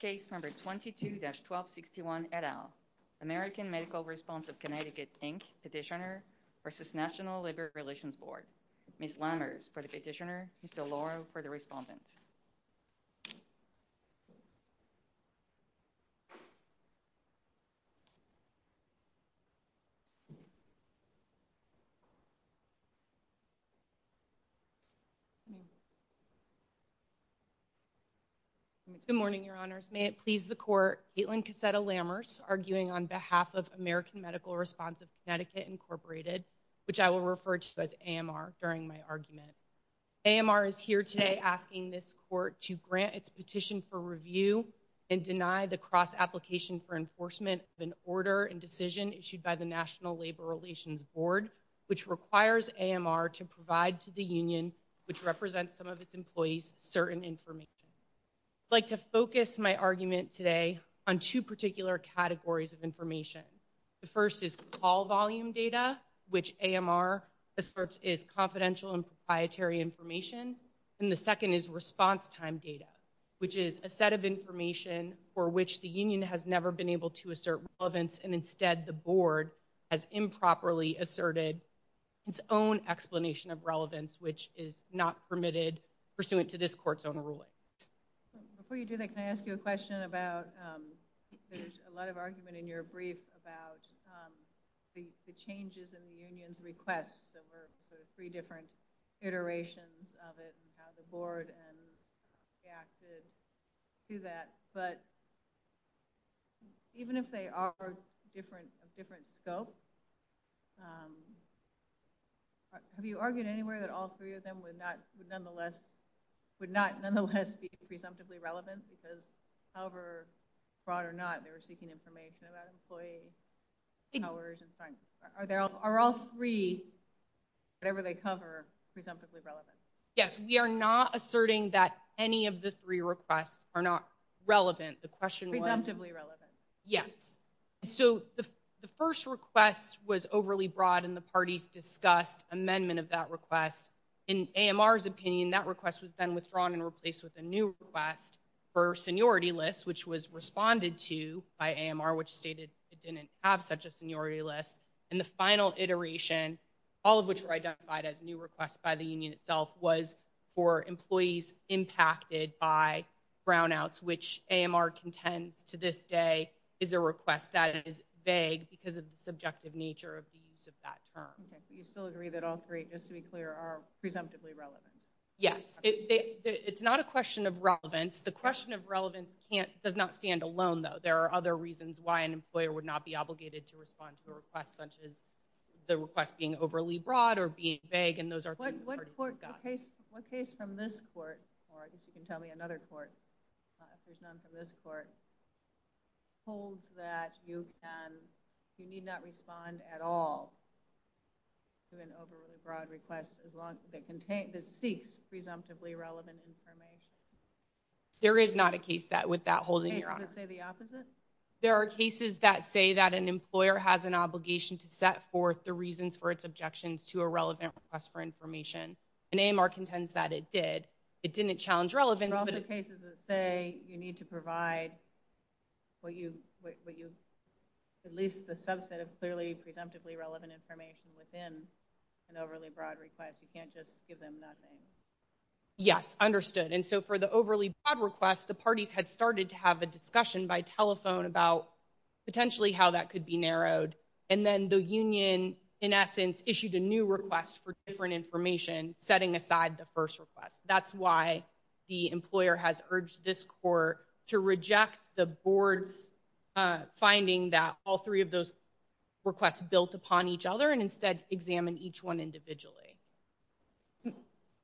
Case number 22-1261 et al. American Medical Response of Connecticut, Inc. Petitioner v. National Labor Relations Board. Ms. Lammers for the petitioner, Mr. Loro for the respondent. Good morning, Your Honors. May it please the Court, Caitlin Cassetta Lammers arguing on behalf of American Medical Response of Connecticut, Inc., which I will refer to as AMR during my to grant its petition for review and deny the cross-application for enforcement of an order and decision issued by the National Labor Relations Board, which requires AMR to provide to the union, which represents some of its employees, certain information. I'd like to focus my argument today on two particular categories of information. The first is call volume data, which AMR asserts is confidential and proprietary information. And the second is response time data, which is a set of information for which the union has never been able to assert relevance and instead the board has improperly asserted its own explanation of relevance, which is not permitted pursuant to this Court's own ruling. Before you do that, can I ask you a question about, there's a lot of argument in your brief about the changes in the union's request, the three different iterations of it and how the board reacted to that. But even if they are of different scopes, have you argued anywhere that all three of them would not nonetheless be presumptively relevant because however broad they were seeking information about employees, are all three, whatever they cover, presumptively relevant? Yes, we are not asserting that any of the three requests are not relevant. The question was. Presumptively relevant. Yes. So the first request was overly broad and the parties discussed amendment of that request. In AMR's opinion, that request was then withdrawn and replaced with a new request for seniority list, which was responded to by AMR, which stated it didn't have such a seniority list. And the final iteration, all of which were identified as new requests by the union itself, was for employees impacted by brownouts, which AMR contends to this day is a request that is vague because of the subjective nature of the use of that term. You still agree that all three, just to be clear, are presumptively relevant? Yes. It's not a question of relevance. The question of relevance does not stand alone though. There are other reasons why an employer would not be obligated to respond to a request such as the request being overly broad or being vague and those are. What case from this court, or you can tell me another court, this court holds that you can, you need not respond at all to an overly broad request as long as it contains, it seeks presumptively relevant information. There is not a case that with that holding your honor. There are cases that say that an employer has an obligation to set forth the reasons for its objections to a relevant request for information and AMR contends that it did. It didn't challenge relevance. There are cases that say you need to provide at least a subset of clearly presumptively relevant information within an overly broad request. You can't just give them nothing. Yes. Understood. And so for the overly broad request, the parties had started to have a discussion by telephone about potentially how that could be narrowed. And then the union, in essence, issued a new request for different information, setting aside the first request. That's why the employer has urged this court to reject the board finding that all three of those requests built upon each other and instead examine each one individually.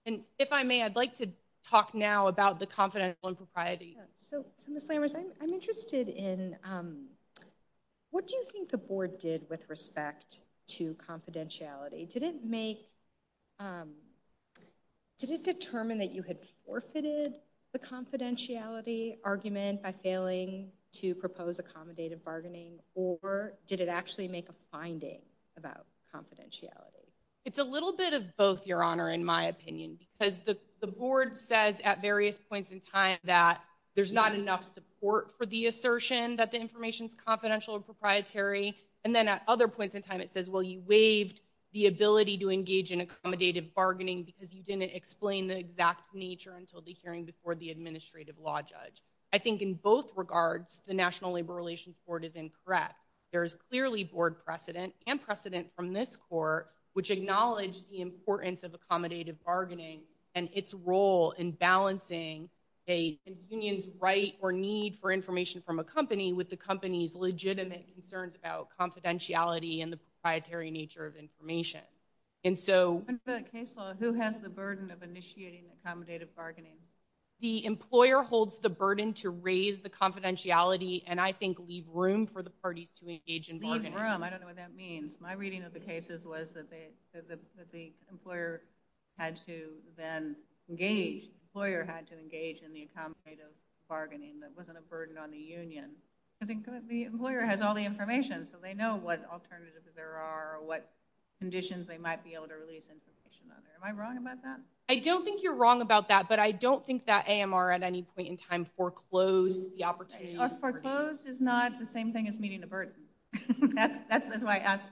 And if I may, I'd like to talk now about the confidential and propriety. So I'm interested in what do you think the board did with respect to confidentiality? Did it make Did it determine that you had forfeited the confidentiality argument by failing to propose accommodative bargaining, or did it actually make a finding about confidentiality? It's a little bit of both, your honor, in my opinion, because the board says at various points in time that there's not enough support for the assertion that the information is confidential and proprietary. And then at other points in time it says, well, you waived the ability to explain the exact nature until the hearing before the administrative law judge. I think in both regards, the National Labor Relations Court is incorrect. There's clearly board precedent and precedent from this court, which acknowledged the importance of accommodative bargaining and its role in balancing a union's right or need for information from a company with the company's legitimate concerns about confidentiality and the proprietary nature of information. And for the case law, who has the burden of initiating accommodative bargaining? The employer holds the burden to raise the confidentiality and I think leave room for the parties to engage in bargaining. Leave room. I don't know what that means. My reading of the cases was that the employer had to then engage. The employer had to engage in the accommodative bargaining. That wasn't a burden on the union. The employer has all the conditions they might be able to release information on it. Am I wrong about that? I don't think you're wrong about that, but I don't think that AMR at any point in time foreclosed the opportunity. Foreclosed is not the same thing as meeting the burden. That's my answer.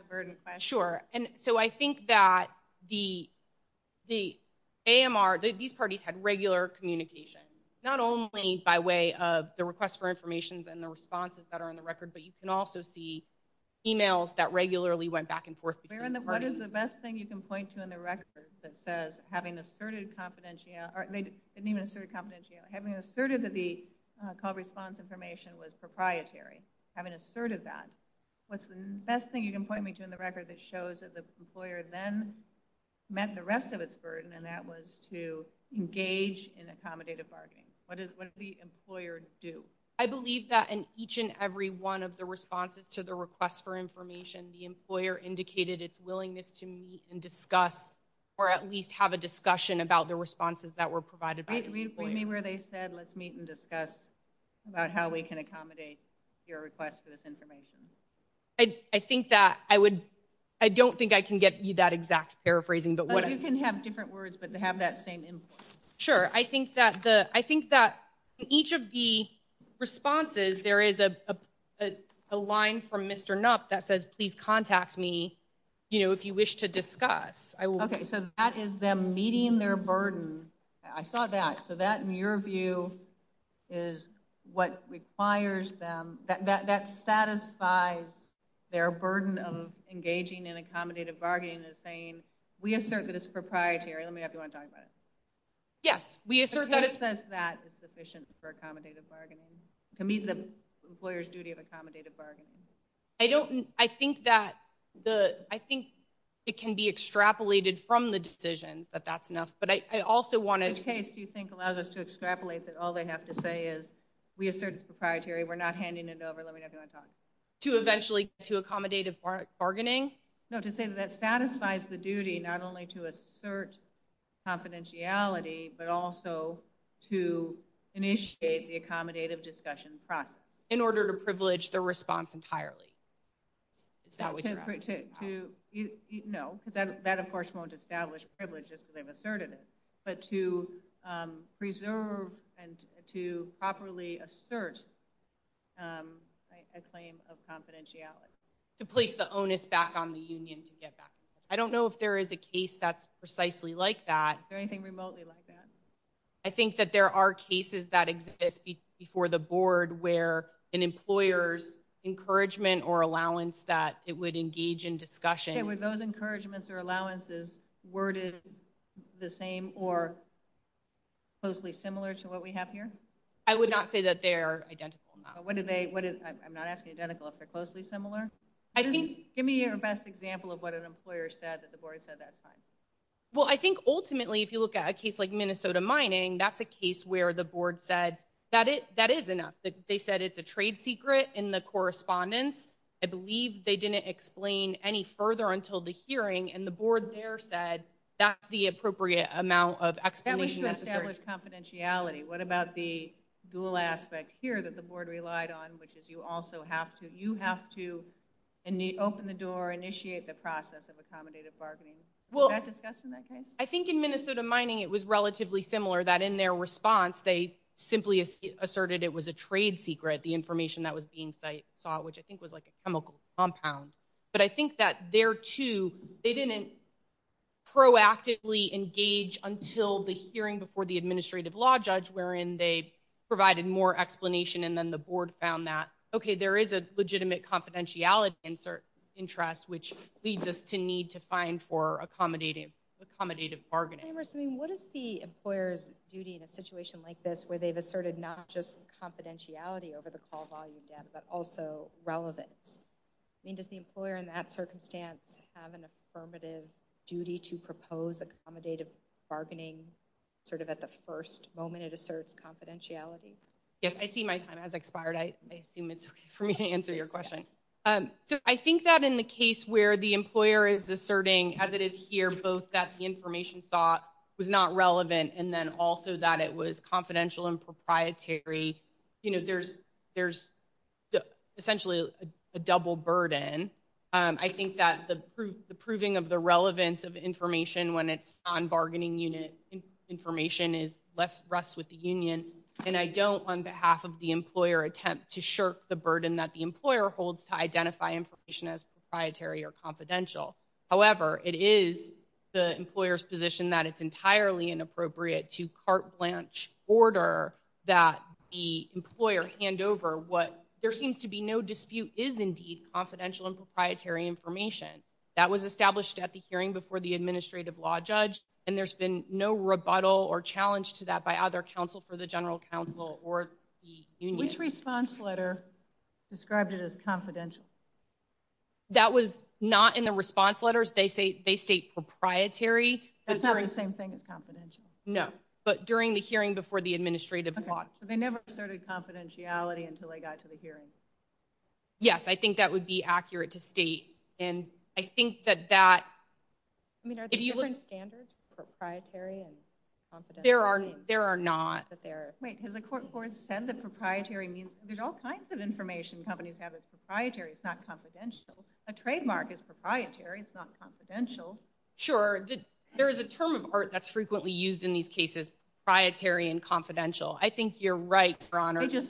Sure. And so I think that the AMR, these parties had regular communication, not only by way of the request for information and the responses that are in the record, but you can also see emails that regularly went back and forth between parties. What is the best thing you can point to in the record that says having asserted confidentiality, or they didn't even assert confidentiality, having asserted that the call response information was proprietary, having asserted that? What's the best thing you can point me to in the record that shows that the employer then met the rest of its burden and that was to engage in accommodative bargaining? What did the employer do? I believe that in each and every one of the responses to the request for information, the employer indicated its willingness to meet and discuss, or at least have a discussion about the responses that were provided. Read for me where they said, let's meet and discuss about how we can accommodate your request for this information. I think that I would, I don't think I can get you that exact paraphrasing, but what? You can have different words, but they have that same. Sure. I think that each of the responses, there is a line from Mr. Nup that says, please contact me if you wish to discuss. Okay. So that is them meeting their burden. I saw that. So that, in your view, is what requires them, that satisfies their burden of engaging in accommodative bargaining and saying, we assert that it's proprietary. Let me know if you want to talk about it. Yes. We assert that it's sufficient for accommodative bargaining. It can be the employer's duty of accommodative bargaining. I don't, I think that the, I think it can be extrapolated from the decision, but that's enough. But I also want to. In this case, do you think it allows us to extrapolate that all they have to say is, we assert it's proprietary, we're not handing it over, let me know if you want to talk. To eventually, to accommodative bargaining? No, to say that that satisfies the duty, not only to assert confidentiality, but also to initiate the accommodative discussion process. In order to privilege the response entirely. No, that, of course, won't establish privileges that have asserted it. But to preserve and to properly assert a claim of confidentiality. To place the onus back on the union to get back. I don't know if there is a case that's precisely like that. Is there anything remotely like that? I think that there are cases that exist before the board where an employer's encouragement or allowance that it would engage in discussion. With those encouragements or allowances, worded the same or closely similar to what we have here? I would not say that they're identical. I'm not asking identical if they're closely similar. Give me your best example of what an employer said that the board said that time. Well, I think ultimately, if you look at a case like Minnesota Mining, that's a case where the board said, that is enough. They said it's a trade secret in the correspondence. I believe they didn't explain any further until the hearing. And the board there said, that's the appropriate amount of explanation. Confidentiality. What about the dual aspect here that the board relied on, which is you also have to, you have to open the door, initiate the process of accommodative bargaining. I think in Minnesota Mining, it was relatively similar that in their response, they simply asserted it was a trade secret. The information that was being sought, which I think was like a chemical compound. But I think that there too, they didn't proactively engage until the hearing before the administrative law judge, wherein they provided more explanation. And then the board found that, okay, there is a legitimate confidentiality insert interest, which leads us to need to find for accommodative bargaining. What is the employer's duty in a situation like this, where they've asserted not just confidentiality over the call volume data, but also relevance? I mean, does the employer in that circumstance have an affirmative duty to propose accommodative bargaining sort of at the first moment it asserts confidentiality? Yes, I see my time has expired. I assume it's okay for me to answer your question. So I think that in the case where the employer is asserting as it is here, both that the information thought was not relevant. And then also that it was confidential and proprietary. You know, there's essentially a double burden. I think that the proving of the relevance of information when it's on bargaining unit, information is less rest with the union. And I don't on behalf of the employer attempt to shirk the burden that the employer holds to identify information as proprietary or confidential. However, it is the employer's position that it's entirely inappropriate to cart blanch order that the employer hand over what there seems to be no dispute is indeed confidential and proprietary information that was established at the hearing before the administrative law judge. And there's been no rebuttal or challenge to that by other counsel for the general counsel or the union. Which response letter described it as confidential? That was not in the response letters. They say they state proprietary. That's not the same thing as confidential. No, but during the hearing before the administrative law. They never asserted confidentiality until they got to the hearing. Yes, I think that would be accurate to state. And I think that that. I mean, are there different standards? Proprietary and confidential? There are. There are not. But there is. Wait, because the court court said that proprietary means there's all kinds A trademark is proprietary, it's not confidential. Sure, there is a term of art that's frequently used in these cases. Proprietary and confidential. I think you're right, Your Honor. So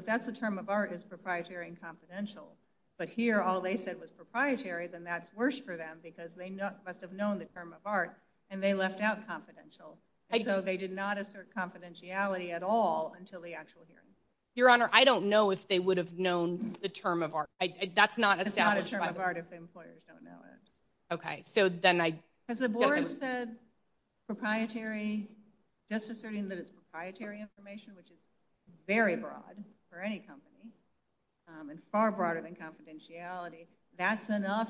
that's the term of art is proprietary and confidential. But here, all they said was proprietary. Then that's worse for them because they must have known the term of art. And they left out confidential. They did not assert confidentiality at all until the actual hearing. Your Honor, I don't know if they would have known the term of art. That's not a term of art if the employers don't know. Okay, so then I. Because the board said proprietary, just asserting that it's proprietary information, which is very broad for any company and far broader than confidentiality. That's enough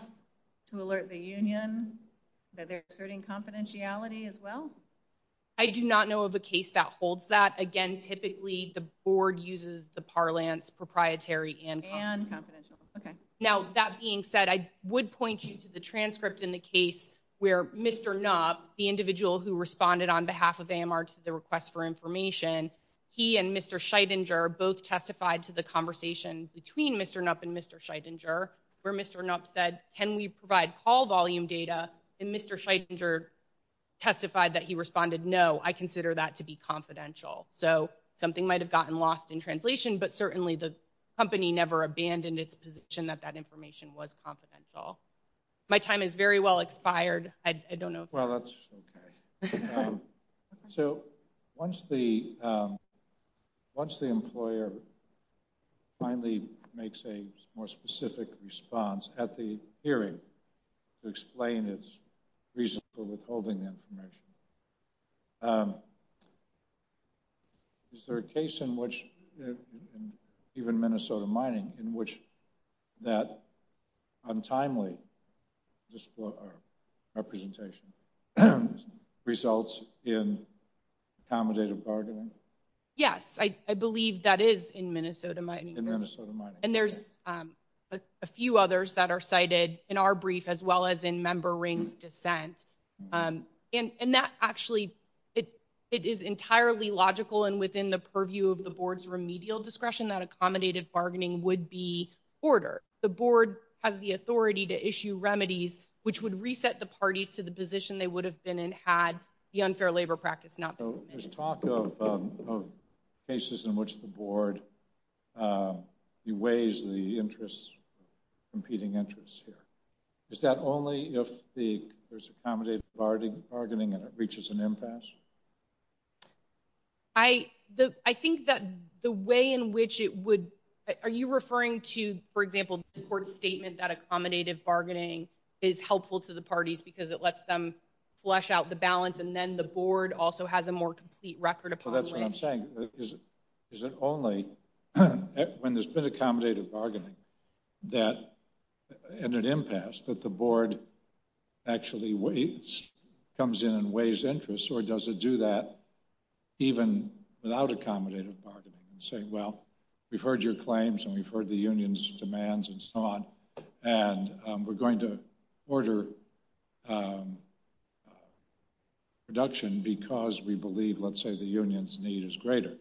to alert the union that they're asserting confidentiality as well? I do not know of a case that holds that. Again, typically the board uses the parlance proprietary and confidential. Okay. Now, that being said, I would point you to the transcript in the case where Mr. Nup, the individual who responded on behalf of AMR to the request for information. He and Mr. Scheidinger both testified to the conversation between Mr. Nup and Mr. Scheidinger. Where Mr. Nup said, can we provide call volume data? And Mr. Scheidinger testified that he responded, no, I consider that to be confidential. So something might have gotten lost in translation. But certainly the company never abandoned its position that that information was confidential. My time is very well expired. I don't know. Well, that's okay. So once the employer finally makes a more specific response at the hearing to explain its reason for withholding information, is there a case in which, even Minnesota Mining, in which that untimely representation results in accommodative bargaining? Yes, I believe that is in Minnesota Mining. In Minnesota Mining. And there's a few others that are cited in our brief, as well as in Member Ring's dissent. And that actually, it is entirely logical. And within the purview of the board's remedial discretion, that accommodative bargaining would be ordered. The board has the authority to issue remedies, which would reset the parties to the position they would have been in had the unfair labor practice not been implemented. So there's talk of cases in which the board beways the interests, competing interests here. Is that only if there's accommodative bargaining and it reaches an impasse? I think that the way in which it would, are you referring to, for example, the court's statement that accommodative bargaining is helpful to the parties because it lets them flush out the balance and then the board also has a more complete record upon it? Well, that's what I'm saying. Is it only when there's been accommodative bargaining that, in an impasse, that the board actually waits, comes in and weighs interests? Or does it do that even without accommodative bargaining and say, well, we've heard your claims and we've heard the union's demands and so on. And we're going to order production because we believe, let's say, the union's need is greater.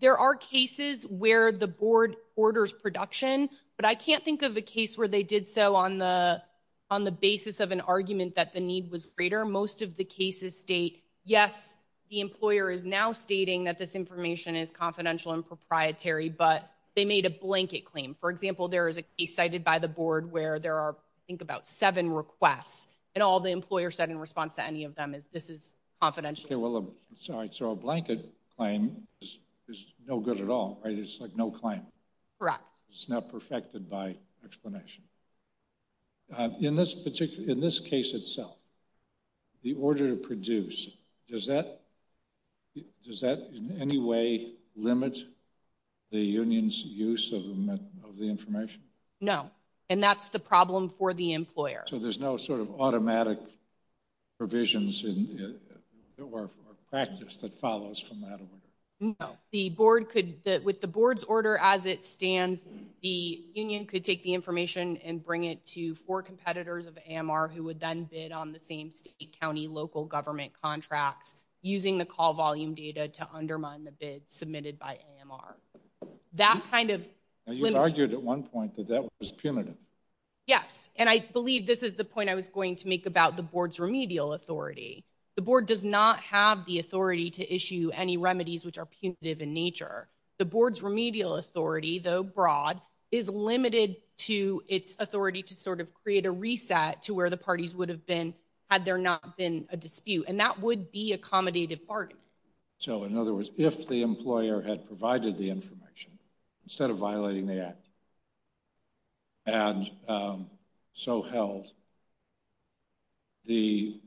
There are cases where the board orders production, but I can't think of a case where they did so on the basis of an argument that the need was greater. Most of the cases state, yes, the employer is now stating that this information is confidential and proprietary, but they made a blanket claim. For example, there is a case cited by the board where there are, I think, about seven requests and all the employer said in response to any of them is, this is confidential. So a blanket claim is no good at all, right? It's like no claim. Correct. It's not perfected by explanation. In this case itself, the order to produce, does that in any way limit the union's use of the information? No, and that's the problem for the employer. So there's no sort of automatic provisions or practice that follows from that order? No, the board could, with the board's order as it stands, the union could take the information and bring it to four competitors of AMR who would then bid on the same state, county, local government contract using the call volume data to undermine the bid submitted by AMR. That kind of- You argued at one point that that was punitive. Yes, and I believe this is the point I was going to make about the board's remedial authority. The board does not have the authority to issue any remedies which are punitive in nature. The board's remedial authority, though broad, is limited to its authority to sort of create a reset to where the parties would have been had there not been a dispute. And that would be accommodated bargaining. So in other words, if the employer had provided the information instead of violating the act, and so held, the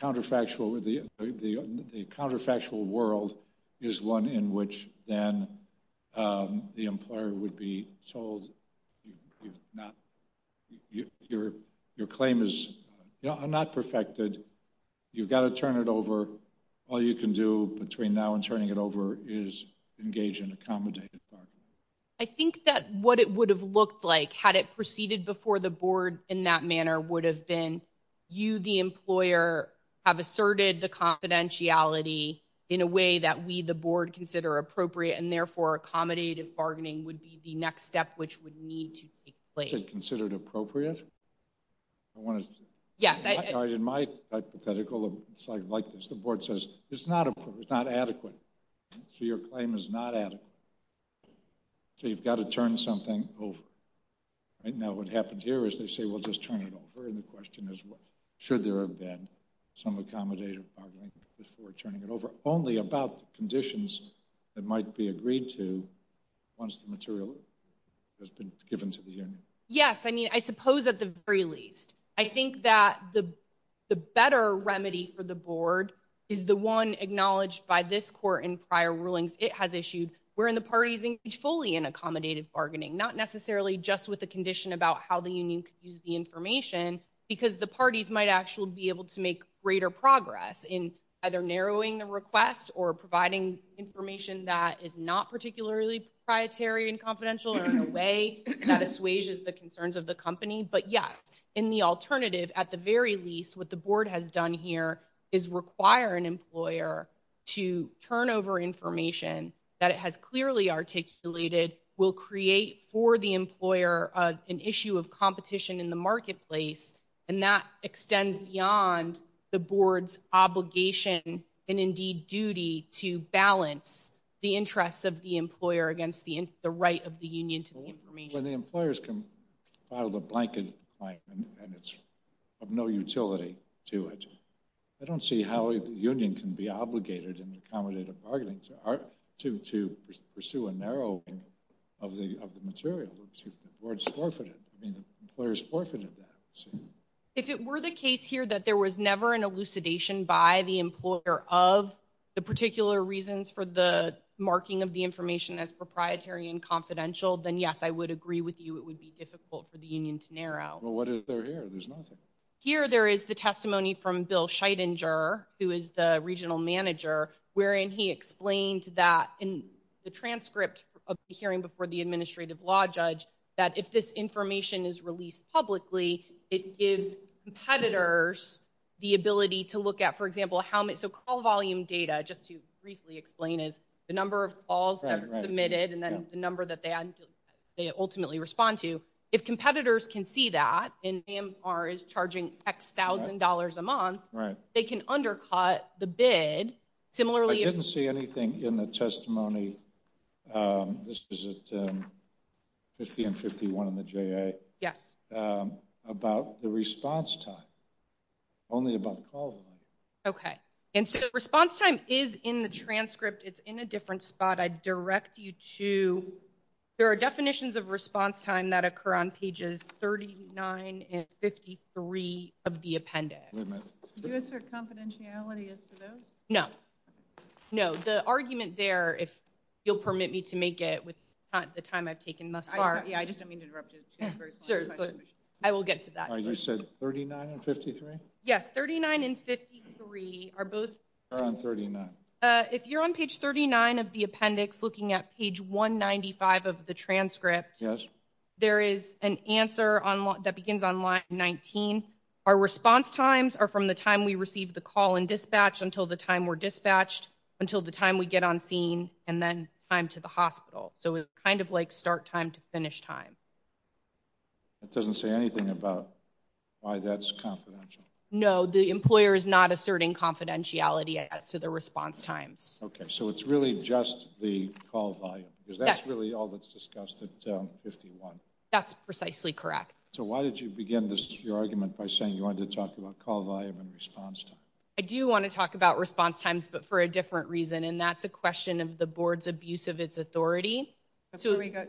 counterfactual world is one in which then the employer would be told, your claim is not perfected. You've got to turn it over. All you can do between now and turning it over is engage in accommodative bargaining. I think that what it would have looked like had it proceeded before the board in that manner would have been you, the employer, have asserted the confidentiality in a way that we, the board, consider appropriate and therefore accommodative bargaining would be the next step which would need to take place. Is it considered appropriate? In my hypothetical, like the board says, it's not appropriate, it's not adequate. So your claim is not adequate. So you've got to turn something over. Right now what happened here is they say, we'll just turn it over. And the question is, should there have been some accommodative bargaining before turning it over, only about conditions that might be agreed to once the material has been given to the union? Yes, I mean, I suppose at the very least. I think that the better remedy for the board is the one acknowledged by this court in prior rulings it has issued wherein the parties engage fully in accommodative bargaining, not necessarily just with the condition about how the union could use the information because the parties might actually be able to make greater progress in either narrowing the request or providing information that is not particularly proprietary and confidential or in a way that assuages the concerns of the company. But yes, in the alternative, at the very least, what the board has done here is require an employer to turn over information that it has clearly articulated will create for the employer an issue of competition in the marketplace. And that extends beyond the board's obligation and indeed duty to balance the interests of the employer against the right of the union to information. So the employers can file a blanket fine and it's of no utility to it. I don't see how a union can be obligated in accommodative bargaining to pursue a narrow of the material which the board's forfeited. I mean, the employers forfeited that. So- If it were the case here that there was never an elucidation by the employer of the particular reasons for the marking of the information as proprietary and confidential, then yes, I would agree with you. It would be difficult for the union to narrow. What is there here? There's nothing. Here, there is the testimony from Bill Scheidinger, who is the regional manager, wherein he explained that in the transcript of the hearing before the administrative law judge that if this information is released publicly, it gives competitors the ability to look at, for example, how much, so call volume data, just to briefly explain it, the number of calls that are submitted and then the number that they ultimately respond to. If competitors can see that, and AMR is charging X thousand dollars a month, they can undercut the bid. Similarly- I didn't see anything in the testimony. This was at 1551 in the JA. Yes. About the response time, only about call volume. Okay. And so response time is in the transcript. It's in a different spot. I direct you to, there are definitions of response time that occur on pages 39 and 53 of the appendix. Wait a minute. Do you have a confidentiality as to those? No, no. The argument there, if you'll permit me to make it with the time I've taken thus far- Yeah, I just don't mean to interrupt you. I will get to that. You said 39 and 53? Yes, 39 and 53 are both- They're on 39. If you're on page 39 of the appendix, looking at page 195 of the transcript- Yes. There is an answer that begins on line 19. Our response times are from the time we received the call and dispatch until the time we're dispatched, until the time we get on scene, and then time to the hospital. So it's kind of like start time to finish time. That doesn't say anything about why that's confidential. No, the employer is not asserting confidentiality as to the response time. Okay, so it's really just the call volume. That's really all that's discussed at 51. That's precisely correct. So why did you begin your argument by saying you wanted to talk about call volume and response? I do want to talk about response times, but for a different reason, and that's a question of the board's abuse of its authority. I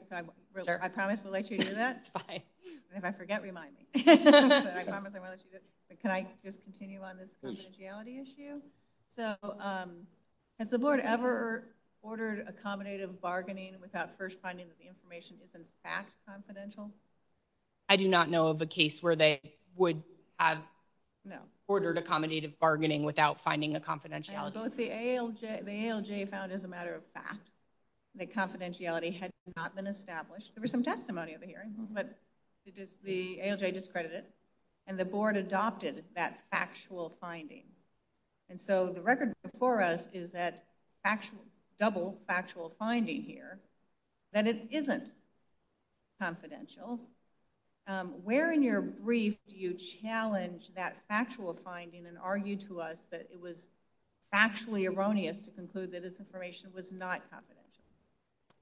promise to let you do that. And if I forget, remind me. Can I just continue on this confidentiality issue? So has the board ever ordered accommodative bargaining without first finding that the information isn't fact confidential? I do not know of a case where they would have ordered accommodative bargaining without finding the confidentiality. The ALJ found as a matter of fact that confidentiality had not been established. There was some testimony at the hearing, but the ALJ discredited it, and the board adopted that factual finding. And so the record before us is that double factual finding here, that it isn't confidential. Where in your brief do you challenge that factual finding and argue to us that it was factually erroneous to conclude that this information was not confidential?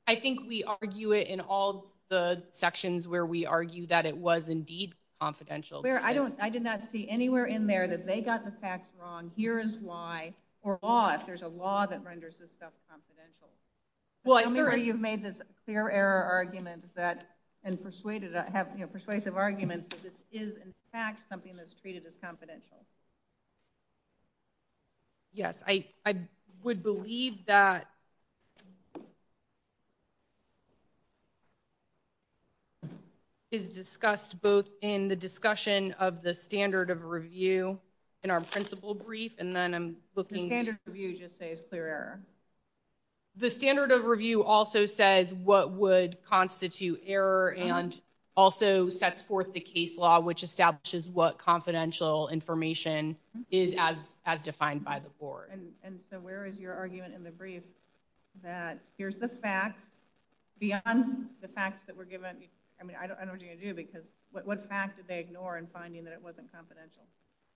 I think we argue it in all the sections where we argue that it was indeed confidential. I did not see anywhere in there that they got the facts wrong. Here is why, or law, if there's a law that renders this stuff confidential. Well, I'm sure you've made this clear error argument that, and persuasive argument, that this is in fact something that's treated as confidential. Yes, I would believe that is discussed both in the discussion of the standard of review in our principal brief, and then I'm looking- The standard of review just says clear error. The standard of review also says what would constitute error and also sets forth the case law, which establishes what confidential information is as defined by the board. And so where is your argument in the brief that here's the facts, beyond the facts that were given? I mean, I don't know what you're going to do because what facts did they ignore in finding that it wasn't confidential?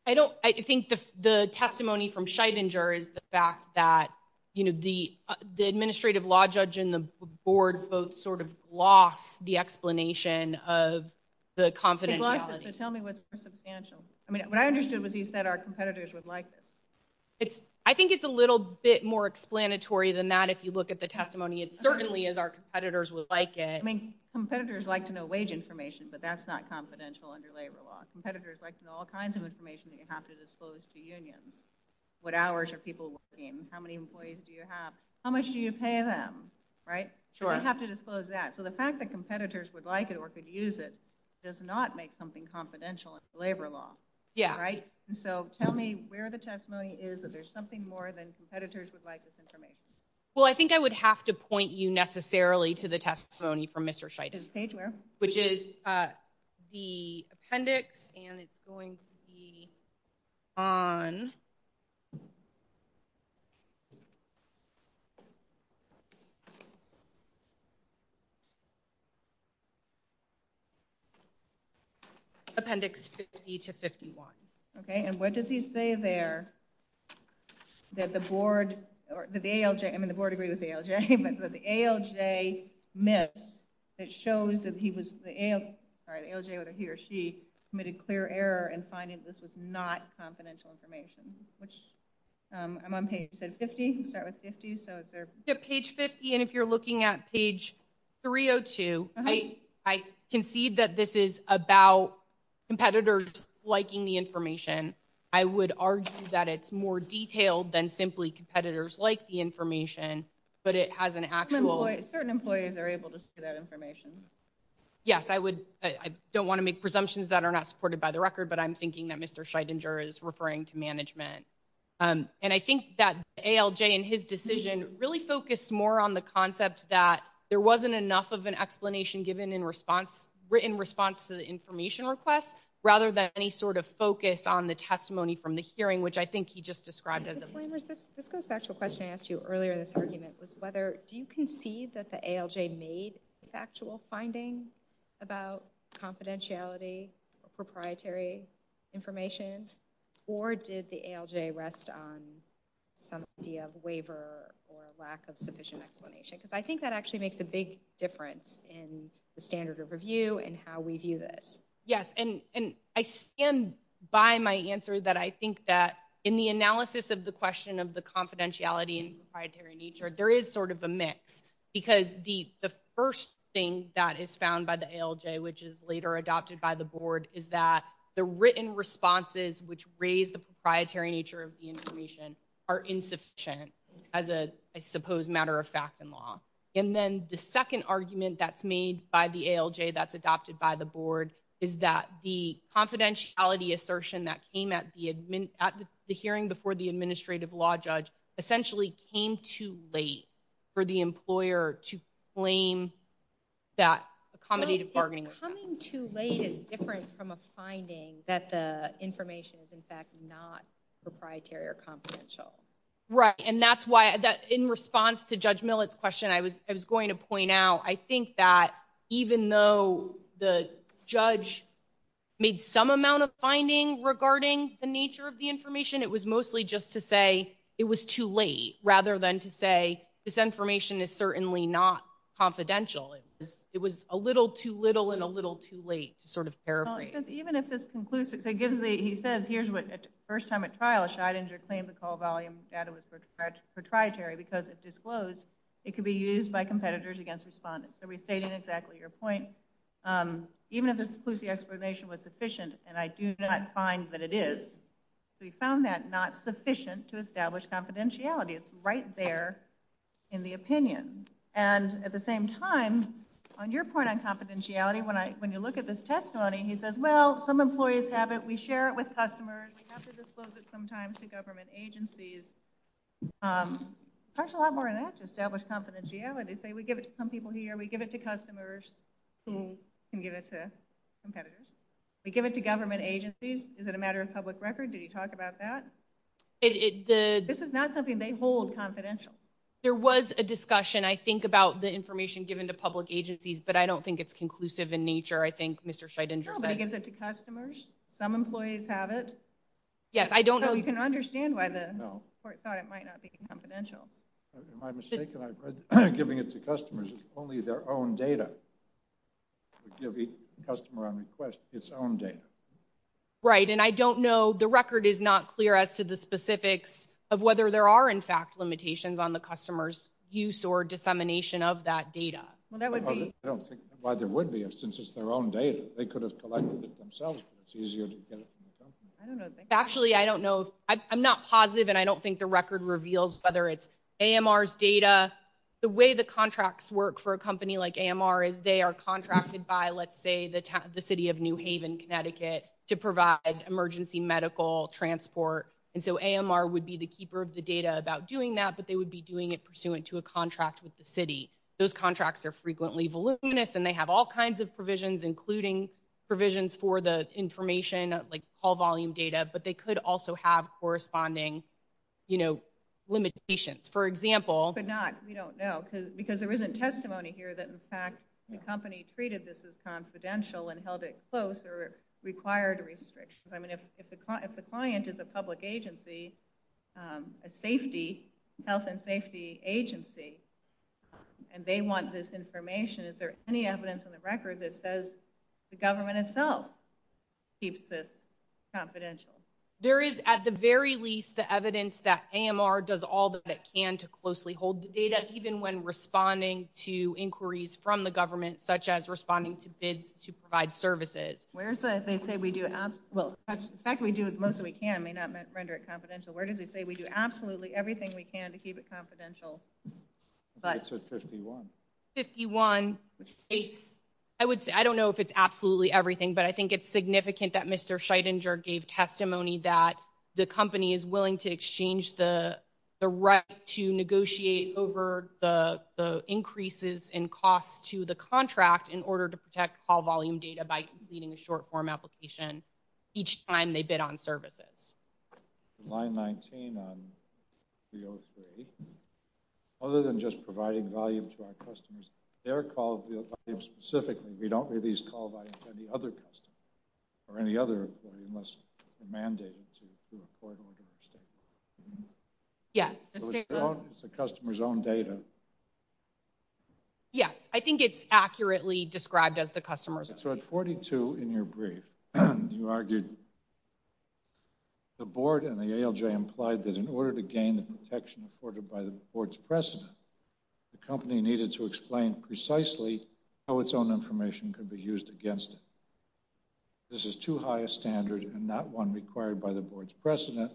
I think the testimony from Scheidinger is the fact that the administrative law judge and the board both sort of lost the explanation of the confidentiality. Tell me what's substantial. I mean, what I understood was he said our competitors would like it. I think it's a little bit more explanatory than that if you look at the testimony. It certainly is our competitors would like it. I mean, competitors like to know wage information, but that's not confidential under labor law. Competitors like to know all kinds of information that you have to disclose to unions. What hours are people working? How many employees do you have? How much do you pay them, right? You have to disclose that. So the fact that competitors would like it or could use it does not make something confidential in labor law, right? So tell me where the testimony is that there's something more than competitors would like this information. Well, I think I would have to point you necessarily to the testimony from Mr. Scheidinger, which is the appendix, and it's going to be on appendix 50 to 51. Okay, and what does he say there that the board or the ALJ, I mean, the board agreed with the ALJ, but the ALJ missed. It shows that he was, the ALJ, sorry, the ALJ, he or she committed clear error in finding this was not confidential information, which I'm on page 50, start with 50, so. So page 50, and if you're looking at page 302, I concede that this is about competitors liking the information. I would argue that it's more detailed than simply competitors like the information, but it has an actual. Certain employees are able to see that information. Yes, I would, I don't want to make presumptions that are not supported by the record, but I'm thinking that Mr. Scheidinger is referring to management. And I think that ALJ and his decision really focused more on the concept that there wasn't enough of an explanation given in response to the information request, rather than any sort of focus on the testimony from the hearing, which I think he just described. This goes back to a question I asked you earlier in this argument, was whether, do you concede that the ALJ made factual findings about confidentiality or proprietary information, or did the ALJ rest on some idea of waiver or lack of sufficient explanation? Because I think that actually makes a big difference in the standard of review and how we view this. Yes, and I stand by my answer that I think that in the analysis of the question of the confidentiality and proprietary nature, there is sort of a mix, because the first thing that is found by the ALJ, which is later adopted by the board, is that the written responses, which raise the proprietary nature of the information are insufficient as a, I suppose, matter of fact in law. And then the second argument that's made by the ALJ that's adopted by the board is that the confidentiality assertion that came at the hearing before the administrative law judge essentially came too late for the employer to claim that accommodative bargaining. Coming too late is different from a finding that the information is, in fact, not proprietary or confidential. Right, and that's why, in response to Judge Millett's question, I was going to point out, I think that even though the judge made some amount of finding regarding the nature of the information, it was mostly just to say it was too late, rather than to say this information is certainly not confidential. It was a little too little and a little too late to sort of paraphrase. Even if this concludes, it gives the, he says, here's what, first time at trial, Scheidinger claimed the call volume data was sort of proprietary because it disclosed it could be used by competitors against respondents. So restating exactly your point, even if this includes the explanation was sufficient, and I do not find that it is, we found that not sufficient to establish confidentiality. It's right there in the opinion. And at the same time, on your point on confidentiality, when you look at this testimony, he says, well, some employees have it, we share it with customers, we have to disclose it sometimes to government agencies. That's a lot more than that to establish confidentiality. Say we give it to some people here, we give it to customers who can give it to competitors. We give it to government agencies. Is it a matter of public record? Did he talk about that? This is not something they hold confidential. There was a discussion, I think, about the information given to public agencies, but I don't think it's conclusive in nature, I think, Mr. Scheidinger. No, they give it to customers. Some employees have it. Yes, I don't know. You can understand why the court thought it might not be confidential. Am I mistaken? I've heard giving it to customers is only their own data. Give the customer on request its own data. Right, and I don't know, the record is not clear as to the specifics of whether there are, in fact, limitations on the customer's use or dissemination of that data. Well, that would be... I don't think that's why there would be, since it's their own data. They could have collected it themselves. It's easier to get it from them. I don't know. Actually, I don't know. I'm not positive, and I don't think the record reveals whether it's AMR's data. The way the contracts work for a company like AMR is they are contracted by, let's say, the city of New Haven, Connecticut, to provide emergency medical transport, and so AMR would be the keeper of the data about doing that, but they would be doing it pursuant to a contract with the city. Those contracts are frequently voluminous, and they have all kinds of provisions, including provisions for the information, like call volume data, but they could also have corresponding limitations. For example... Could not, we don't know, because there isn't testimony here that, in fact, the company treated this as confidential and held it close. There are required restrictions. I mean, if the client is a public agency, a safety, health and safety agency, and they want this information, is there any evidence in the record that says the government itself keeps this confidential? There is, at the very least, the evidence that AMR does all that it can even when responding to inquiries from the government, such as responding to bids to provide services. Where is that? They say we do absolute... Well, the fact that we do most of what we can may not render it confidential. Where does it say we do absolutely everything we can to keep it confidential? I think it says 51. 51. I don't know if it's absolutely everything, but I think it's significant that Mr. Scheidinger gave testimony that the company is willing to exchange the right to negotiate over the increases in cost to the contract in order to protect call volume data by completing a short-form application each time they bid on services. Line 19 on 303, other than just providing value to our customers, their call volume specifically, we don't release call volumes to any other customer or any other employer unless they're mandated to employ an order of state. Yeah. It's the customer's own data. Yeah, I think it's accurately described as the customer's own. So at 42 in your brief, you argued the board and the ALJ implied that in order to gain the protection afforded by the board's precedent, the company needed to explain precisely how its own information could be used against it. This is too high a standard and not one required by the board's precedent.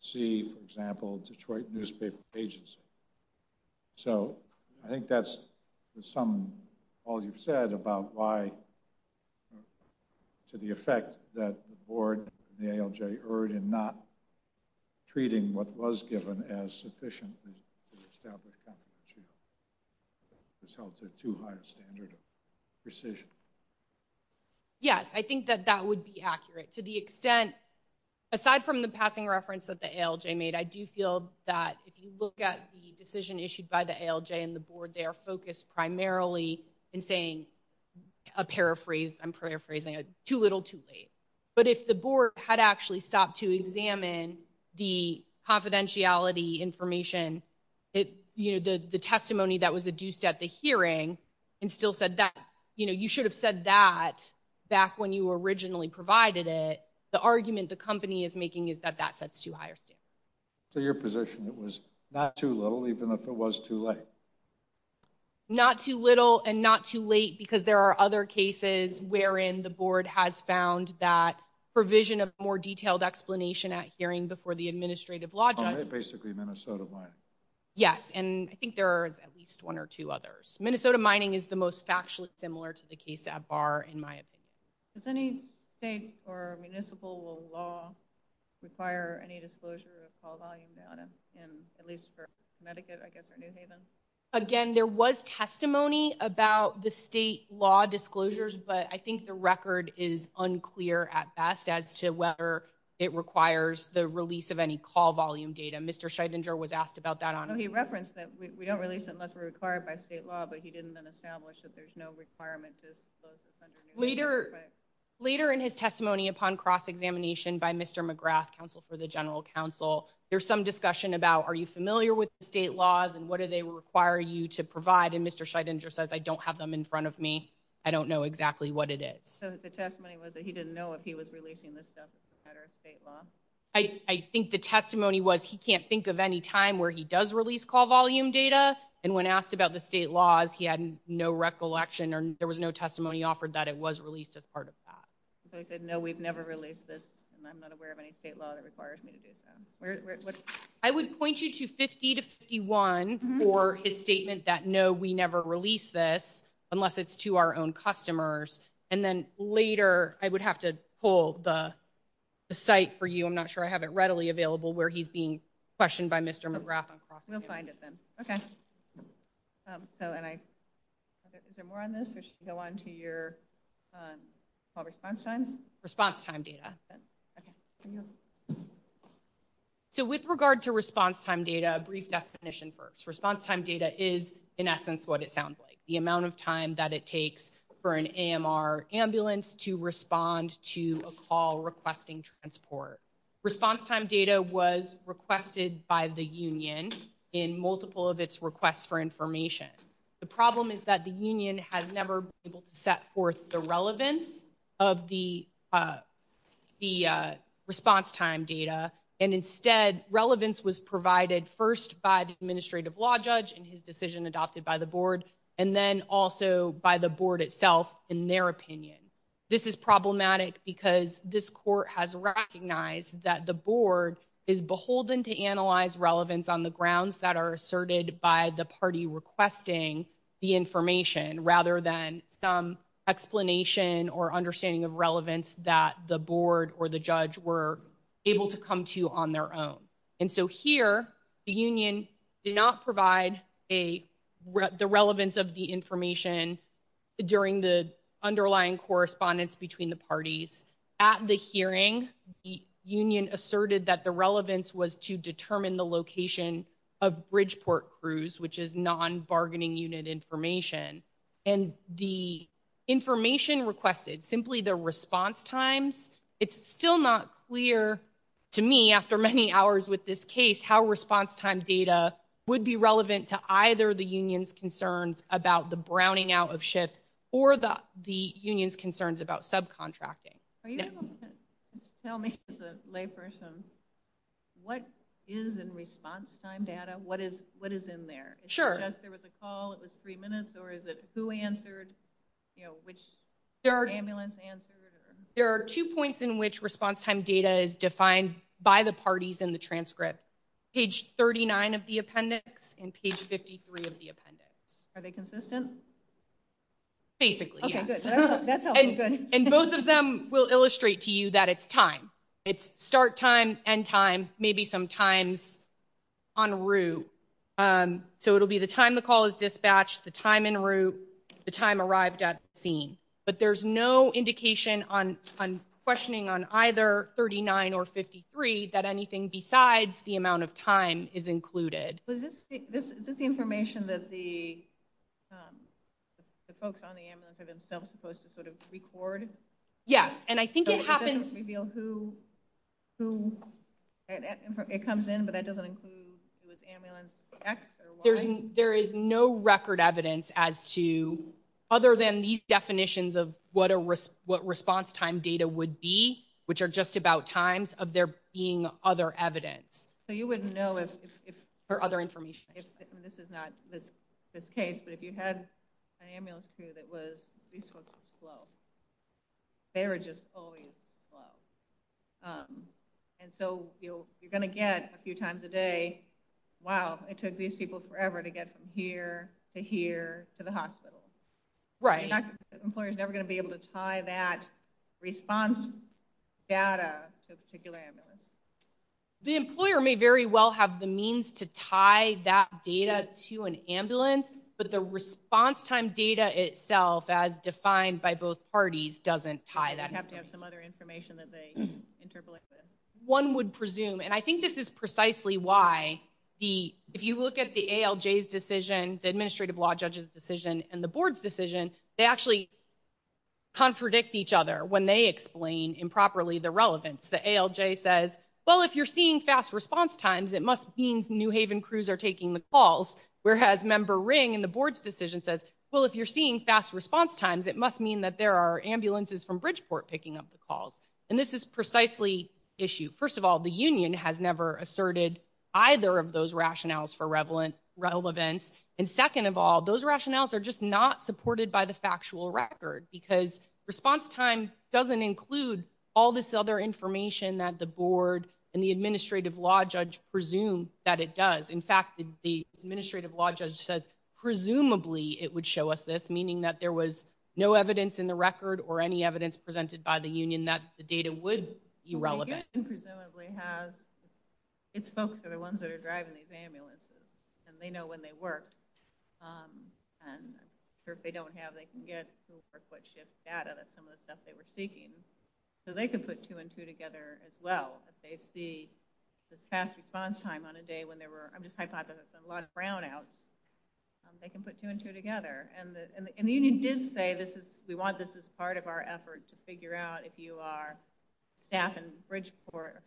See, for example, Detroit newspaper agency. So I think that's all you've said about why, to the effect that the board and the ALJ erred in not treating what was given as sufficiently to establish confidentiality. It's held to too high a standard of precision. Yes, I think that that would be accurate to the extent, aside from the passing reference that the ALJ made, I do feel that if you look at the decision issued by the ALJ and the board, they are focused primarily in saying a paraphrase, I'm paraphrasing, too little, too late. But if the board had actually stopped to examine the confidentiality information, the testimony that was adduced at the hearing and still said that, you know, you should have said that back when you originally provided it. The argument the company is making is that that sets too high a standard. So your position, it was not too low, even if it was too late. Not too little and not too late because there are other cases wherein the board has found that provision of more detailed explanation at hearing before the administrative law judge. Basically Minnesota mining. Yes, and I think there are at least one or two others. Minnesota mining is the most factually similar to the case at bar in my opinion. Does any state or municipal law require any disclosure of call volume data? And at least for Medicaid, I guess or New Haven. Again, there was testimony about the state law disclosures, but I think the record is unclear at best as to whether it requires the release of any call volume data. Mr. Scheidinger was asked about that on. He referenced that we don't release unless we're required by state law, but he didn't then establish that there's no requirement. Later, later in his testimony upon cross examination by Mr. McGrath Council for the General Council, there's some discussion about are you familiar with the state laws and what do they require you to provide? And Mr. Scheidinger says I don't have them in front of me. I don't know exactly what it is. So the testimony was that he didn't know if he was releasing this stuff at our state law. I think the testimony was he can't think of any time where he does release call volume data. And when asked about the state laws, he had no recollection and there was no testimony offered that it was released as part of that. So I said no, we've never released and I'm not aware of any state law that requires me to do so. I would point you to 50 to 51 for his statement that no, we never release this unless it's to our own customers. And then later, I would have to pull the site for you. I'm not sure I have it readily available where he's being questioned by Mr. McGrath on cross-examination. We'll find it then. Okay. So, is there more on this? Or should we go on to your response time? Response time data. So with regard to response time data, a brief definition first. Response time data is, in essence, what it sounds like. The amount of time that it takes for an AMR ambulance to respond to a call requesting transport. Response time data was requested by the union in multiple of its requests for information. The problem is that the union has never been able to set forth the relevance of the response time data. And instead, relevance was provided first by the administrative law judge and his decision adopted by the board, and then also by the board itself in their opinion. This is problematic because this court has recognized that the board is beholden to analyze relevance on the grounds that are asserted by the party requesting the information rather than some explanation or understanding of relevance that the board or the judge were able to come to on their own. And so here, the union did not provide the relevance of the information during the underlying correspondence between the parties. At the hearing, the union asserted that the relevance was to determine the location of Bridgeport Cruise, which is non-bargaining unit information. And the information requested, simply the response times, it's still not clear to me after many hours with this case how response time data would be relevant to either the union's concerns about the browning out of shifts or the union's concerns about subcontracting. Are you able to tell me as a layperson what is in response time data? What is in there? Sure. If there was a call, it was three minutes, or is it who answered? You know, which ambulance answered? There are two points in which response time data is defined by the parties in the transcript. Page 39 of the appendix and page 53 of the appendix. Are they consistent? Basically. And both of them will illustrate to you that it's time. It's start time, end time, maybe some times en route. So it'll be the time the call is dispatched, the time en route, the time arrived at the scene. But there's no indication on questioning on either 39 or 53 that anything besides the amount of time is included. Is this the information that the folks on the ambulance are themselves supposed to sort of record? Yes, and I think it happens. It doesn't reveal who it comes in, but that doesn't include who is ambulance X or Y? There is no record evidence as to other than these definitions of what a risk, what response time data would be, which are just about times of there being other evidence. So you wouldn't know if there are other information. If this is not the case, but if you had an ambulance through that was slow. They are just always slow. And so you're gonna get a few times a day. Wow, it took these people forever to get from here to here to the hospital, right? Employers never gonna be able to tie that response data. The employer may very well have the means to tie that data to an ambulance, but the response time data itself as defined by both parties doesn't tie that have to have some other information that they interpolated. One would presume, and I think this is precisely why if you look at the ALJ's decision, the administrative law judge's decision and the board's decision, they actually contradict each other when they explain improperly the relevance. The ALJ says, well, if you're seeing fast response times, it must mean New Haven crews are taking the calls. Whereas member ring and the board's decision says, well, if you're seeing fast response times, it must mean that there are ambulances from Bridgeport picking up the calls. And this is precisely issue. First of all, the union has never asserted either of those rationales for relevance. And second of all, those rationales are just not supported by the factual record because response time doesn't include all this other information that the board and the administrative law judge presume that it does. In fact, the administrative law judge says presumably it would show us this, meaning that there was no evidence in the record or any evidence presented by the union that the data would be relevant. And presumably has its folks are the ones that are driving these ambulances and they know when they work. And if they don't have, they can get a quick shift data that some of the stuff they were seeking. So they can put two and two together as well. If they see the fast response time on a day when they were, I'm just hypothesizing a lot of brownouts, they can put two and two together. And the union did say this is, we want this as part of our effort to figure out if you are staffing Bridgeport,